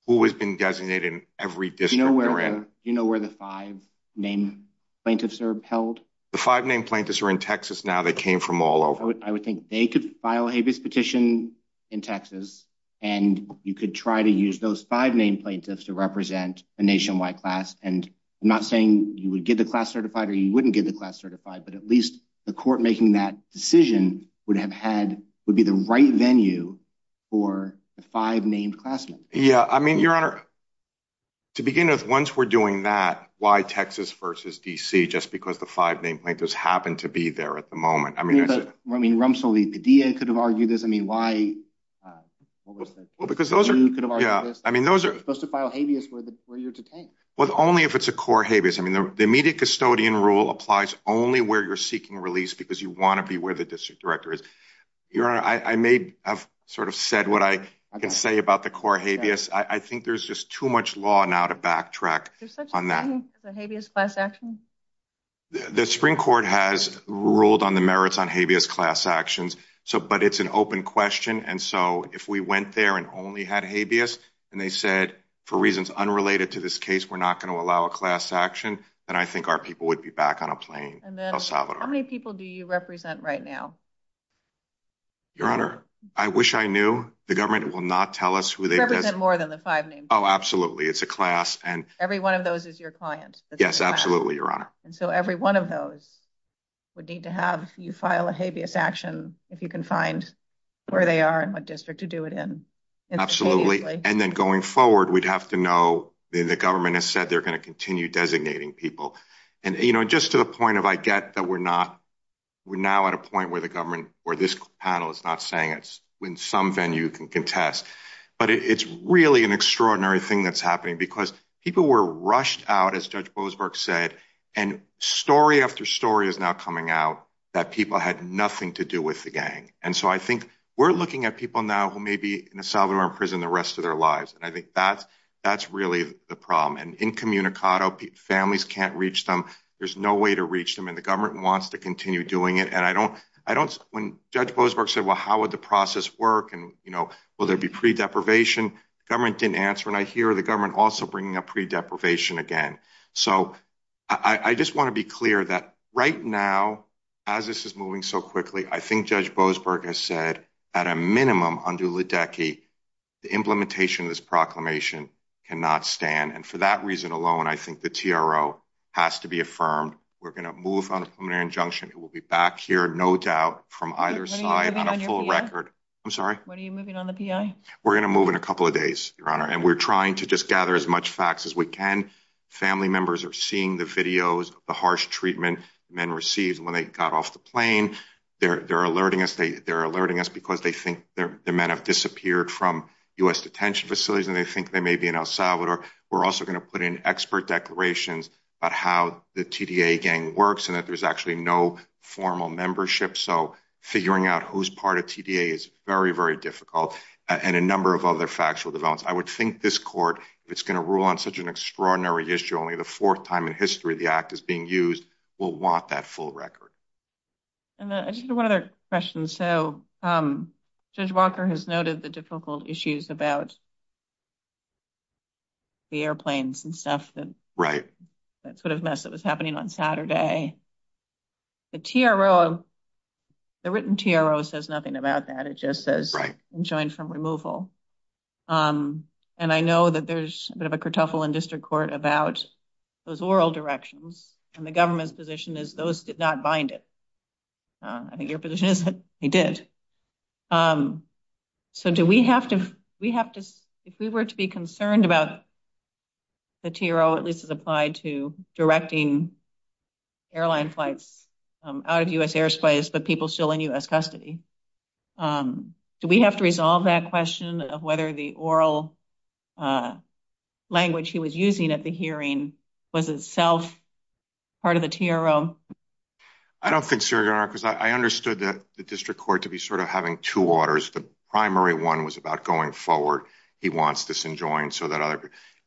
who has been designated in every district? Do you know where the five named plaintiffs are held? The five named plaintiffs are in Texas now. They came from all over. I would think they could file a habeas petition in Texas, and you could try to use those five named plaintiffs to represent a nationwide class. And I'm not saying you would get the class certified or you wouldn't get the class certified, but at least the court making that decision would be the right venue for the five named classmen. Yeah, I mean, Your Honor, to begin with, once we're doing that, why Texas versus D.C.? Just because the five named plaintiffs happen to be there at the moment. I mean, Rumsfeld, the D.A. could have argued this. Well, because those are, yeah. I mean, those are supposed to file habeas where you're detained. Well, only if it's a core habeas. I mean, the immediate custodian rule applies only where you're seeking release because you want to be where the district director is. Your Honor, I may have sort of said that I think there's just too much law now to backtrack on that. There's such a thing as a habeas class action? The Supreme Court has ruled on the merits on habeas class actions, but it's an open question. And so if we went there and only had habeas and they said, for reasons unrelated to this case, we're not going to allow a class action, then I think our people would be back on a plane. And then how many people do you represent right now? Your Honor, I wish I knew. The government will not tell us who they represent because there's more than the five names. Oh, absolutely. It's a class. Every one of those is your client. Yes, absolutely, Your Honor. And so every one of those would need to have you file a habeas action if you can find where they are and what district to do it in. Absolutely. And then going forward, we'd have to know the government has said they're going to continue designating people. And, you know, just to the point of I get that we're not, we're now at a point where the government, where this panel is not saying this is really an extraordinary thing that's happening because people were rushed out, as Judge Boasberg said, and story after story is now coming out that people had nothing to do with the gang. And so I think we're looking at people now who may be in a solitary prison the rest of their lives. And I think that's really the problem. And incommunicado, families can't reach them. There's no way to reach them. And the government wants to continue doing it. And I don't, when Judge Boasberg said, well, how would the process work? And, you know, will there be pre-deprivation? Government didn't answer. And I hear the government also bringing up pre-deprivation again. So I just want to be clear that right now, as this is moving so quickly, I think Judge Boasberg has said at a minimum under Lideki, the implementation of this proclamation cannot stand. And for that reason alone, I think the TRO has to be affirmed. We're going to move on a preliminary injunction. It will be back here, no doubt, from either side on a full record. What are you moving on at the end? We're going to move in a couple of days, Your Honor. And we're trying to just gather as much facts as we can. Family members are seeing the videos, the harsh treatment men received when they got off the plane. They're alerting us. They're alerting us because they think the men have disappeared from U.S. detention facilities and they think they may be in El Salvador. We're also going to put in expert declarations about how the TDA gang works and that there's actually no formal membership. So figuring out who's part of TDA is very, very difficult and a number of other factual developments. I would think this court, if it's going to rule on such an extraordinary issue, only the fourth time in history the act is being used, will want that full record. And just one other question. So Judge Walker has noted the difficult issues about the airplanes and stuff. Right. That sort of mess that was happening on Saturday. The TRO, the written TRO says nothing about that. It just says enjoined from removal. And I know that there's a bit of a kerfuffle in district court about those oral directions and the government's position is those did not bind it. I think your position is that they did. So do we have to, if we were to be concerned about the TRO, at least as applied to directing airline flights out of U.S. airspace, but people still in U.S. custody, do we have to resolve that question of whether the oral language he was using at the hearing was itself part of the TRO? I don't think so, Your Honor, because I understood that the district court to be sort of having two orders. The primary one was about going forward. He wants this enjoined.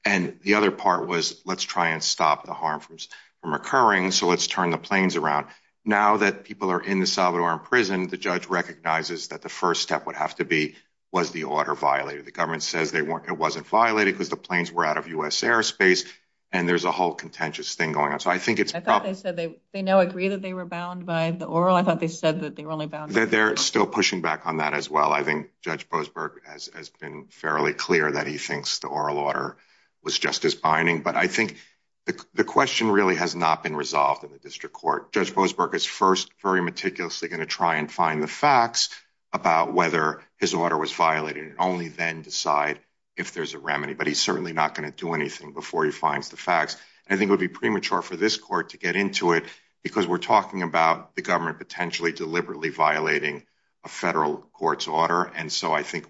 And the other part was, let's try and stop the harm from occurring, so let's turn the planes around. Now that people are in the Salvadoran prison, the judge recognizes that the first step would have to be was the order violated. The government says it wasn't violated because the planes were out of U.S. airspace and there's a whole contentious thing going on. So I think it's- I thought they said they now agree that they were bound by the oral. I thought they said that they were only bound- They're still pushing back on that as well. I think Judge Boasberg has been fairly clear that he thinks the oral order was just as binding. But I think the question really has not been resolved in the district court. I think Judge Boasberg is first very meticulously going to try and find the facts about whether his order was violated and only then decide if there's a remedy. But he's certainly not going to do anything before he finds the facts. I think it would be premature for this court to get into it because we're talking about the government potentially deliberately violating a federal court's order. And so I think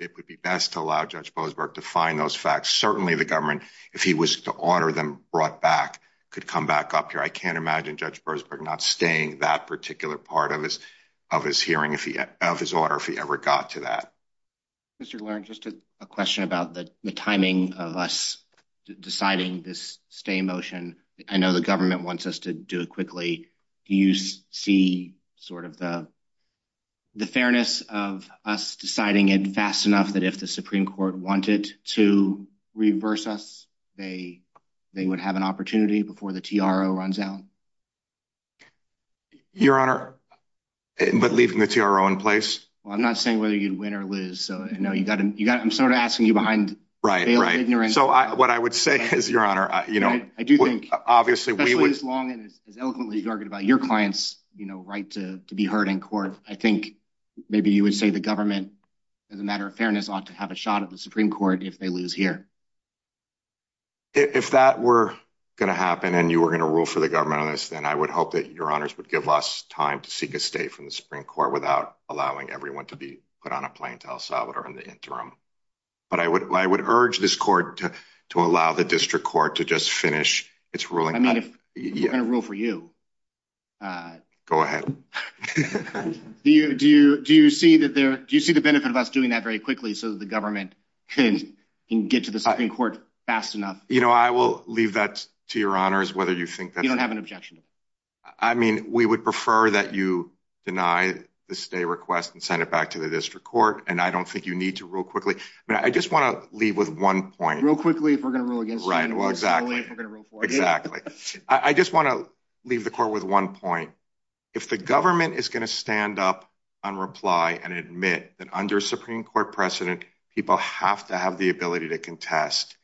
it would be best to allow Judge Boasberg to find those facts. Certainly the government, if he was to order them brought back, could come back up here. But I don't see Judge Boasberg not staying that particular part of his hearing of his order if he ever got to that. Mr. Laird, just a question about the timing of us deciding this stay motion. I know the government wants us to do it quickly. Do you see sort of the fairness of us deciding it fast enough that if the Supreme Court wanted to reverse us, they would have an opportunity before the TRO runs out? Your Honor, but leaving the TRO in place? Well, I'm not saying whether you'd win or lose. I'm sort of asking you behind bail of ignorance. So what I would say is, Your Honor, I do think, especially as long and as eloquently as you argue about your clients' right to be heard in court, I think maybe you would say the government, as a matter of fairness, ought to have a shot at the Supreme Court if they lose here. If that were going to happen and you were going to rule for the government on this, then I would hope that Your Honors would give us time to seek a stay from the Supreme Court without allowing everyone to be put on a plane to El Salvador in the interim. But I would urge this court to allow the district court to just finish its ruling. I'm not going to rule for you. Go ahead. Do you see the benefit of us doing that very quickly so that the government can get to the Supreme Court fast enough? You know, I will leave that to Your Honors, whether you think that... You don't have an objection? I mean, we would prefer that you deny the stay request and send it back to the district court, and I don't think you need to rule quickly. I just want to leave with one point. Rule quickly if we're going to rule against you. Exactly. I just want to leave the court with one point. If the government is going to stand up and reply and admit that under a Supreme Court precedent, people have to have the ability to contest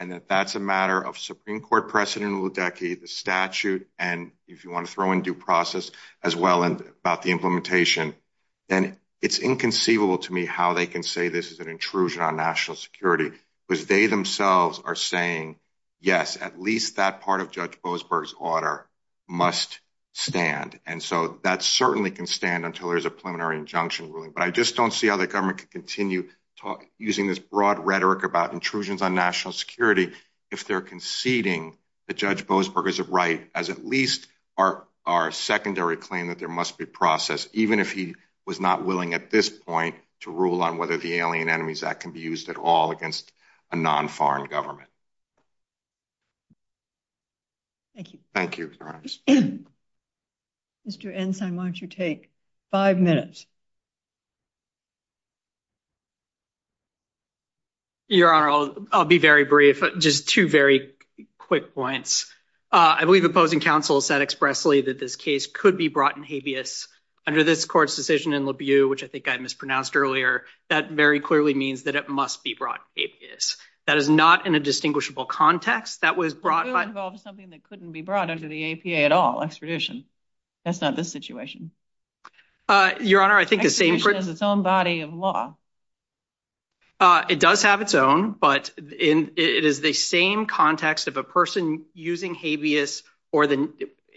a matter of Supreme Court precedent in Ludecky, the statute, and if you want to throw in due process as well about the implementation, then it's inconceivable to me how they can say this is an intrusion on national security, because they themselves are saying, yes, at least that part of Judge Boasberg's order must stand. And so that certainly can stand until there's a preliminary injunction ruling. But I just don't see how the government could continue using this broad rhetoric about intrusions on national security if they're conceding that Judge Boasberg is right as at least our secondary claim that there must be process, even if he was not willing at this point to rule on whether the Alien Enemies Act can be used at all against a non-foreign government. Thank you. Thank you, Your Honor. Mr. Ensign, why don't you take five minutes? Your Honor, I'll be very brief, very quick points. I believe opposing counsel said expressly that this case could be brought in habeas. Under this court's decision in LaBieu, which I think I mispronounced earlier, that very clearly means that it must be brought in habeas. That is not in a distinguishable context. That was brought by... It involves something that couldn't be brought under the APA at all, extradition. That's not this situation. Your Honor, I think the same... Extradition is its own body of law. It does have its own, but it is the same context of a person using habeas, or in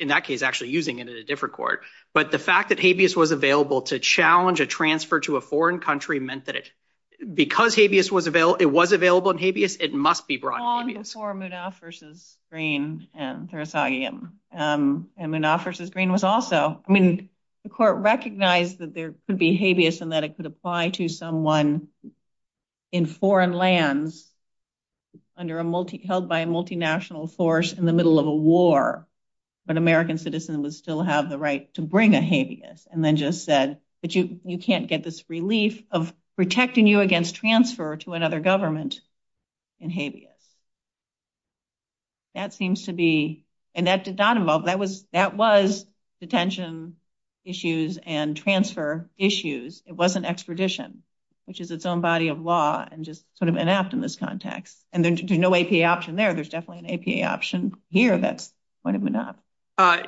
that case, actually using it in a different court. But the fact that habeas was available to challenge a transfer to a foreign country meant that because it was available in habeas, it must be brought in habeas. Long before Munaf versus Green, and Munaf versus Green was also... I mean, the court recognized that there could be habeas and that it could apply to someone in foreign lands held by a multinational force in the middle of a war, but an American citizen would still have the right to bring a habeas, and then just said that you can't get this relief of protecting you against transfer to another government in habeas. That seems to be... And that did not involve... That was detention issues and transfer issues. It wasn't extradition, which is its own body of law and just sort of an act in this context. And there's no APA option there. There's definitely an APA option here that's going to Munaf.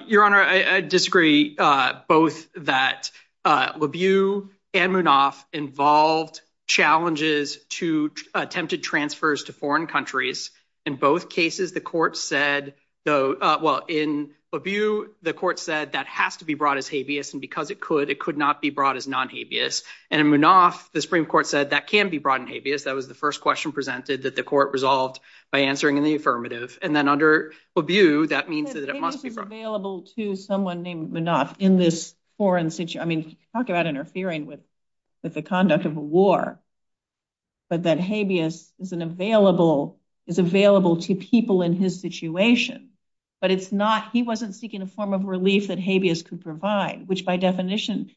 Your Honor, I disagree both that Labiew and Munaf involved challenges to attempted transfers to foreign countries. In both cases, the court said... Well, in Labiew, the court said that has to be brought as habeas, and because it could, it could not be brought as non-habeas. And in Munaf, the Supreme Court said that can be brought in habeas. That was the first question presented that the court resolved by answering in the affirmative. And then under Labiew, that means that it must be brought. I mean, talk about interfering with the conduct of a war, but that habeas is available to people in his situation, but it's not... He wasn't seeking a form of relief that habeas could provide, but he was seeking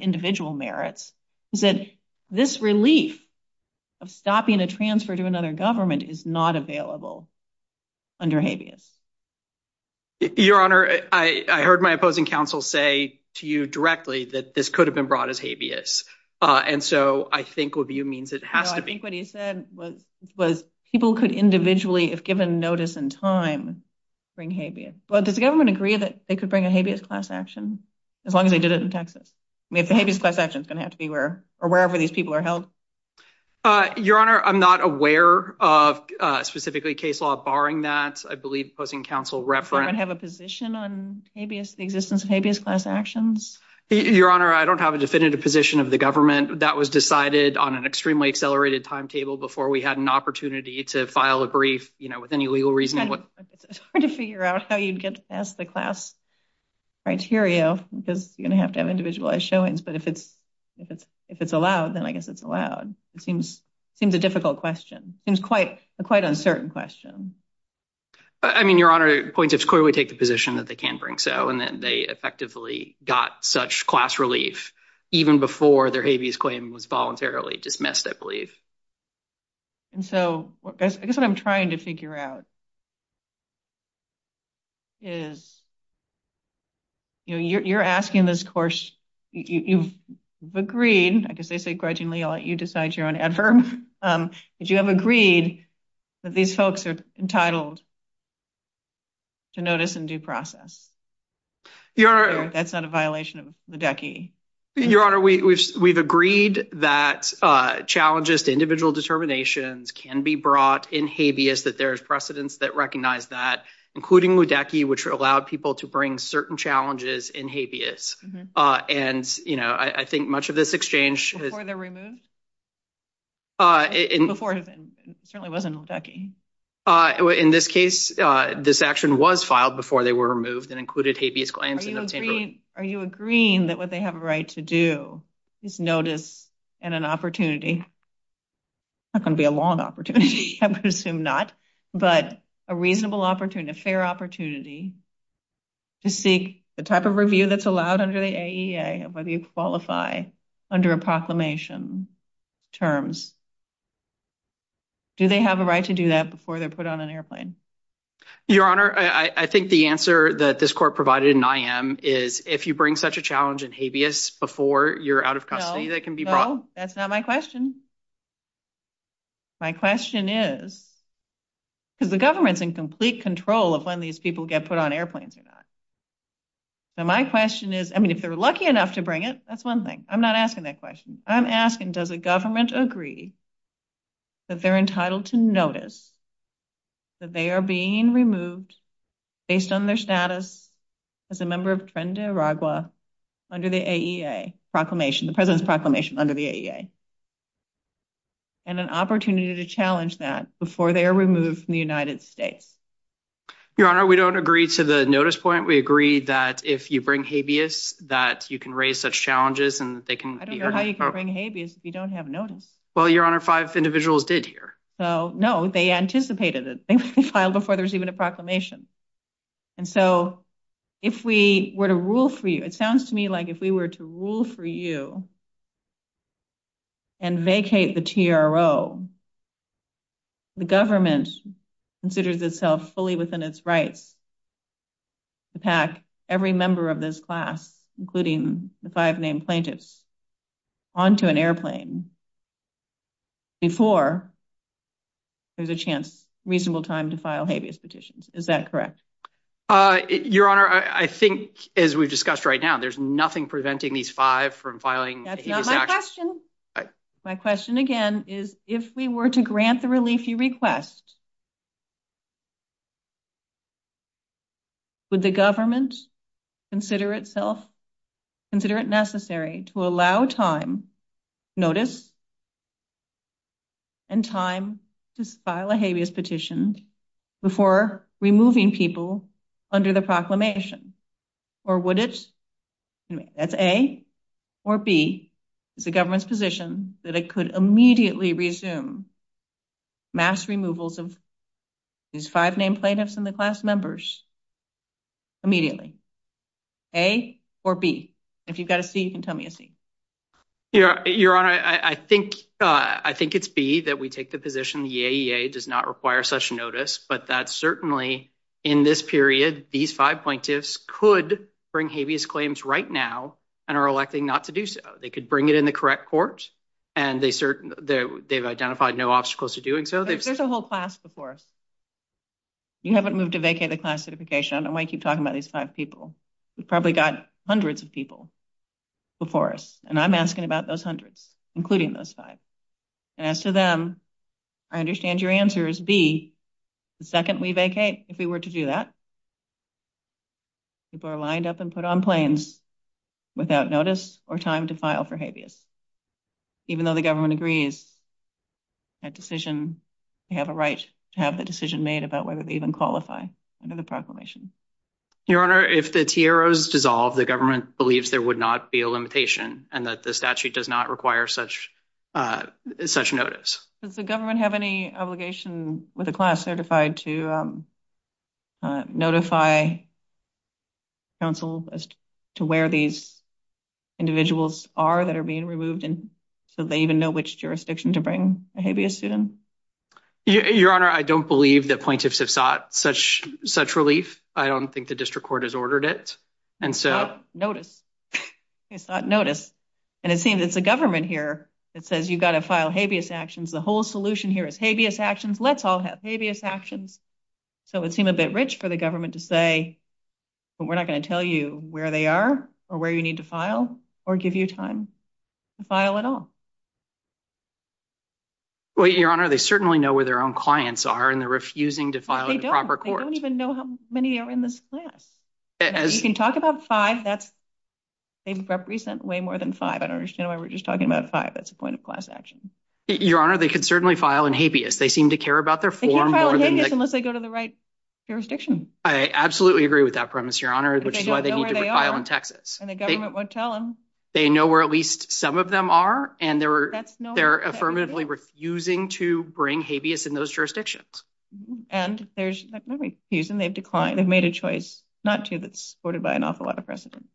individual merits that this relief of stopping a transfer to another government is not available under habeas. Your Honor, I heard my opposing counsel say to you directly that this could have been brought as habeas. And so I think Labiew means it has to be... No, I think what he said was people could individually, if given notice and time, bring habeas. But does the government agree that they could bring a habeas class action as long as they did it in Texas? I mean, the habeas class action is going to have to be wherever these people are held. Your Honor, I'm not aware of specifically case law barring that. I believe opposing counsel referenced... Does anyone have a position on the existence of habeas class actions? Your Honor, I don't have a definitive position of the government. That was decided on an extremely accelerated timetable before we had an opportunity to file a brief with any legal reason. It's hard to figure out how you'd get past the class criteria because you're going to have to have individualized showings. But if it's allowed, then I guess it's allowed. It seems a difficult question. It seems quite an uncertain question. I mean, Your Honor, it's clear we take the position that they can bring so and that they effectively got such class relief even before their habeas claim was voluntarily dismissed, I believe. And so I guess what I'm trying to figure out is... You're asking this course... You've agreed, I guess they say grudgingly, I'll let you decide your own effort, but you have agreed that these folks are entitled to notice and due process. That's not a violation of the DECI. Your Honor, we've agreed that challenges to individual determinations can be brought in habeas that there's precedents that recognize that, including WDACI, which allowed people to bring certain challenges in habeas. And, you know, I think much of this exchange... Before they're removed? Before... It certainly wasn't WDACI. In this case, this action was filed before they were removed and included habeas claims. Are you agreeing that what they have a right to do is notice and an opportunity? It's not going to be a long opportunity. I'm going to assume not, but a reasonable opportunity, a fair opportunity to seek the type of review that's allowed under the AEA of whether you qualify under a proclamation terms. Do they have a right to do that before they're put on an airplane? Your Honor, I think the answer that this court provided in I.M. is if you bring such a challenge in habeas before you're out of custody, that can be brought... No, that's not my question. My question is... Because the government's in complete control of when these people get put on airplanes or not. So my question is... I mean, if they're lucky enough to bring it, that's one thing. I'm not asking that question. I'm asking, does the government agree that they're entitled to notice that they are being removed based on their status as a member of Trinidad and Tobago under the AEA proclamation, the President's proclamation under the AEA? And an opportunity to challenge that before they are removed from the United States. Your Honor, we don't agree to the notice point. We agree that if you bring habeas, that you can raise such challenges and they can... I don't know how you can bring habeas if you don't have notice. Well, Your Honor, five individuals did here. So, no. They anticipated it. They filed before there was even a proclamation. And so, if we were to rule for you, it sounds to me like if we were to rule for you and vacate the TRO, the government considers itself fully within its rights to pack every member of this class, including the five named plaintiffs, onto an airplane before there's a chance, reasonable time to file habeas petitions. Is that correct? Your Honor, I think as we've discussed right now, there's nothing preventing these five from filing a habeas petition. That's my question. My question, again, is if we were to grant the relief you request, would the government consider itself, consider it necessary to allow time, notice, and time to file a habeas petition before removing people under the proclamation? Or would it, that's A or B, the government's position that it could immediately resume mass removals of these five named plaintiffs and the class members immediately? A or B? If you've got a C, you can tell me a C. Your Honor, I think it's B that we take the position the EAEA does not require such notice, but that certainly in this period, these five plaintiffs could bring their habeas claims right now and are elected not to do so. They could bring it in the correct court and they've identified no obstacles to doing so. There's a whole class before us. You haven't moved to vacate a class certification. I don't want to keep talking about these five people. We've probably got hundreds of people before us and I'm asking about those hundreds, including those five. And as to them, I understand your answer is B, the second we vacate, if we were to do that, people are lined up and put on planes without notice or time to file for habeas. Even though the government agrees that decision, they have a right to have the decision made about whether they even qualify under the proclamation. if the TRO is dissolved, the government believes there would not be a limitation and that the statute does not require such notice. Does the government have any obligation with a class certified to notify counsel as to where these individuals are that are being removed so they even know which jurisdiction to bring a habeas to them? Your Honor, I don't believe that plaintiffs have sought such relief. I don't think the district court has ordered it. It's not notice. It's not notice. And it seems it's the government here that says you've got to file habeas actions. The whole solution here is habeas actions. Let's all have habeas actions. I'm a bit rich for the government to say we're not going to tell you where they are or where you need to file or give you time to file at all. Well, Your Honor, they certainly know where their own clients are and they're refusing to file a proper court. They don't even know how many are in this class. You can talk about five. That's way more than five. I don't understand why we're just talking about five. That's a point of class action. Your Honor, they could certainly file in habeas. They seem to care about their form. Unless they go to the right jurisdiction. I absolutely agree with that premise, Your Honor. Which is why they need to file in Texas. And the government won't tell them. They know where at least some of them are. And they're affirmatively refusing to bring habeas in those jurisdictions. And there's they've made a choice not to that's supported by an awful lot of precedent.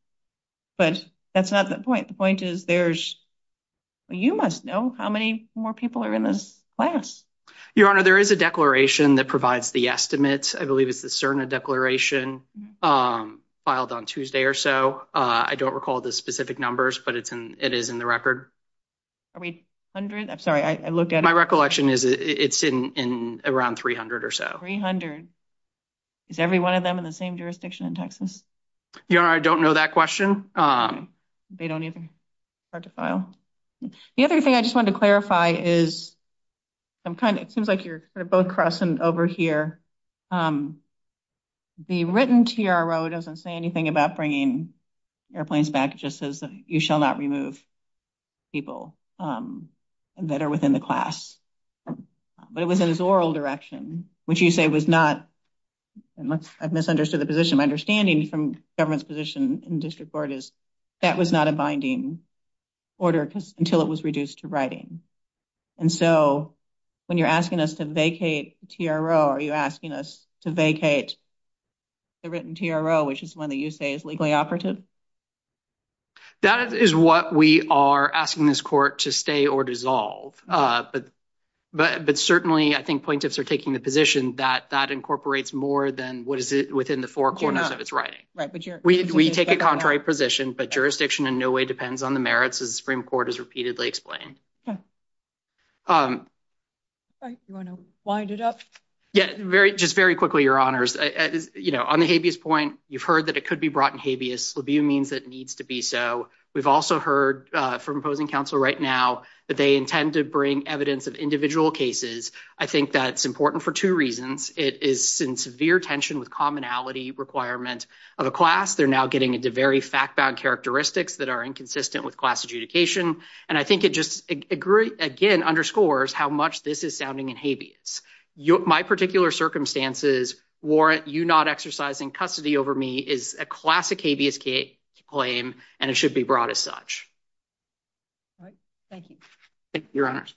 But that's not the point. The point is there's you must know how many more people are in this class. Your Honor, there is a declaration that provides the estimates. I believe it's a CERNA declaration filed on Tuesday or so. I don't recall the specific numbers, but it is in the record. Are we 100? I'm sorry. I looked at my recollection is it's in around 300 or so. 300. Is every one of them in the same jurisdiction in Texas? Your Honor, I don't know that question. They don't even have to file. The other thing I just want to clarify is I'm kind of it seems like you're both crossing over here. The written TRO doesn't say anything about bringing airplanes back. It just says you shall not remove people that are within the class. But it was in its oral direction, which you say was not I've misunderstood the position. My understanding from government's position in district court is that was not a binding order until it was reduced to writing. So when you're asking us to vacate TRO, are you asking us to vacate the written TRO, which is one that you say is legally operative? That is what we are asking this court to stay or dissolve. But certainly I think plaintiffs are taking the position that that incorporates more than what is it within the four corners of its writing. We take a contrary position, but jurisdiction in no way depends on the merits of the Supreme Court as repeatedly explained. Do you want to wind it up? Yes. Just very quickly, Your Honors. On the habeas point, you've heard that it could be brought in habeas. It means it needs to be so. We've also heard from opposing counsel right now that they intend to bring evidence of individual cases. I think that's important for two reasons. It is in severe tension with commonality requirements of a class. They're now getting into very fact-bound characteristics that are inconsistent with class adjudication. And I think it just again underscores how much this is sounding in habeas. My particular circumstances warrant you not exercising custody over me is a classic habeas claim, and it should be brought as such. All right. Thank you. Thank you, Your Honors.